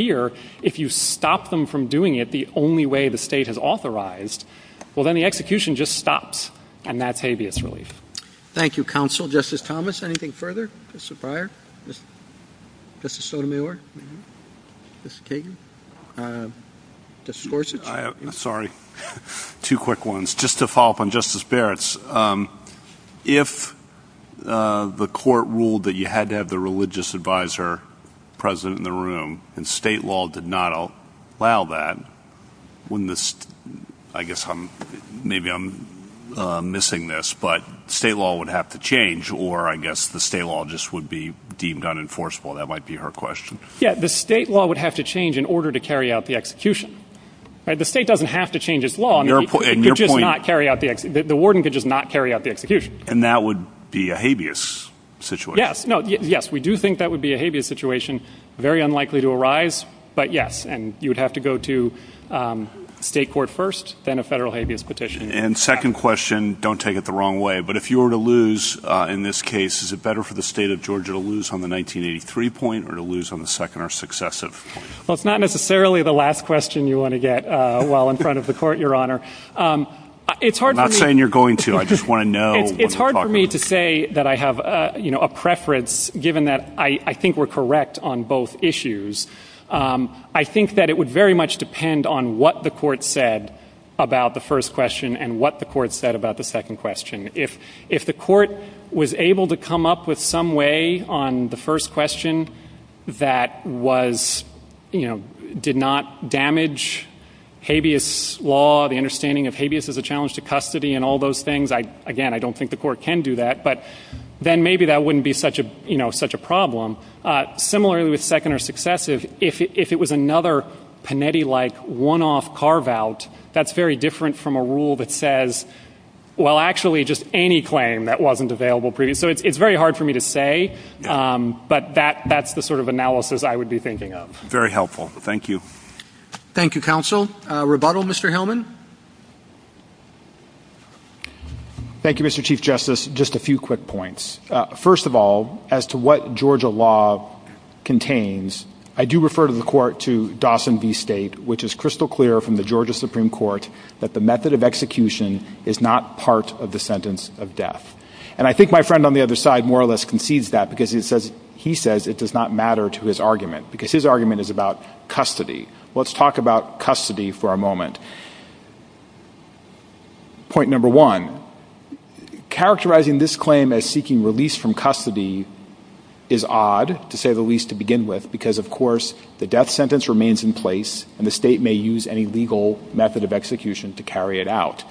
here, if you stop them from doing it the only way the state has authorized, well, then the execution just stops, and that's habeas relief. Thank you, counsel. Justice Thomas, anything further? Justice Breyer? Justice Sotomayor? Justice Kagan? Justice Gorsuch? Sorry, two quick ones. Just to follow up on Justice Barrett's, if the court ruled that you had to have the religious advisor present in the room and state law did not allow that, wouldn't this, I guess maybe I'm missing this, but state law would have to change, or I guess the state law just would be deemed unenforceable. That might be her question. Yeah, the state law would have to change in order to carry out the execution. The state doesn't have to change its law. The warden could just not carry out the execution. And that would be a habeas situation. Yes. No, yes, we do think that would be a habeas situation, very unlikely to arise, but yes. And you would have to go to state court first, then a federal habeas petition. And second question, don't take it the wrong way, but if you were to lose in this case, is it better for the state of Georgia to lose on the 1983 point or to lose on the second or successive? Well, it's not necessarily the last question you want to get while in front of the court, Your Honor. I'm not saying you're going to. I just want to know. It's hard for me to say that I have a preference, given that I think we're correct on both issues. I think that it would very much depend on what the court said about the first question and what the court said about the second question. If the court was able to come up with some way on the first question that was, you know, did not damage habeas law, the understanding of habeas as a challenge to custody and all those things, again, I don't think the court can do that, but then maybe that wouldn't be such a problem. Similarly with second or successive, if it was another Panetti-like one-off carve-out, that's very different from a rule that says, well, actually, just any claim that wasn't available previously. So it's very hard for me to say, but that's the sort of analysis I would be thinking of. Very helpful. Thank you. Thank you, counsel. Rebuttal, Mr. Hillman? Thank you, Mr. Chief Justice. Just a few quick points. First of all, as to what Georgia law contains, I do refer to the court to Dawson v. State, which is crystal clear from the Georgia Supreme Court that the method of execution is not part of the sentence of death. And I think my friend on the other side more or less concedes that because he says it does not matter to his argument, because his argument is about custody. Let's talk about custody for a moment. Point number one, characterizing this claim as seeking release from custody is odd, to say the least, to begin with, because, of course, the death sentence remains in place and the state may use any legal method of execution to carry it out.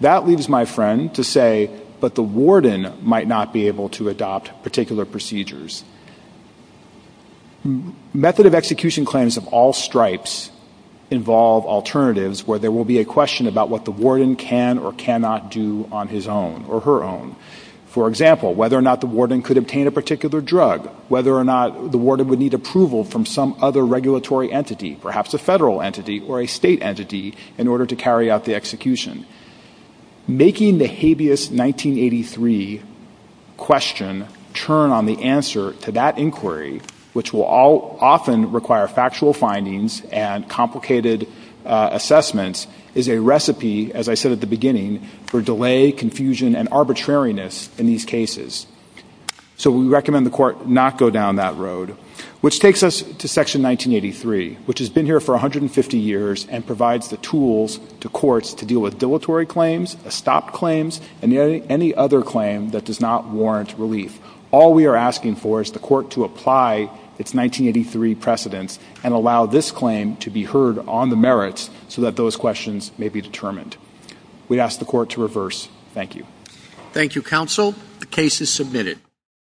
That leaves my friend to say, but the warden might not be able to adopt particular procedures. Method of execution claims of all stripes involve alternatives where there will be a question about what the warden can or cannot do on his own or her own. For example, whether or not the warden could obtain a particular drug, or whether or not the warden would need approval from some other regulatory entity, perhaps a federal entity or a state entity, in order to carry out the execution. Making the habeas 1983 question turn on the answer to that inquiry, which will often require factual findings and complicated assessments, is a recipe, as I said at the beginning, for delay, confusion, and arbitrariness in these cases. So we recommend the court not go down that road, which takes us to Section 1983, which has been here for 150 years and provides the tools to courts to deal with dilatory claims, stopped claims, and any other claim that does not warrant relief. All we are asking for is the court to apply its 1983 precedent and allow this claim to be heard on the merits so that those questions may be determined. We ask the court to reverse. Thank you. Thank you, counsel. The case is submitted.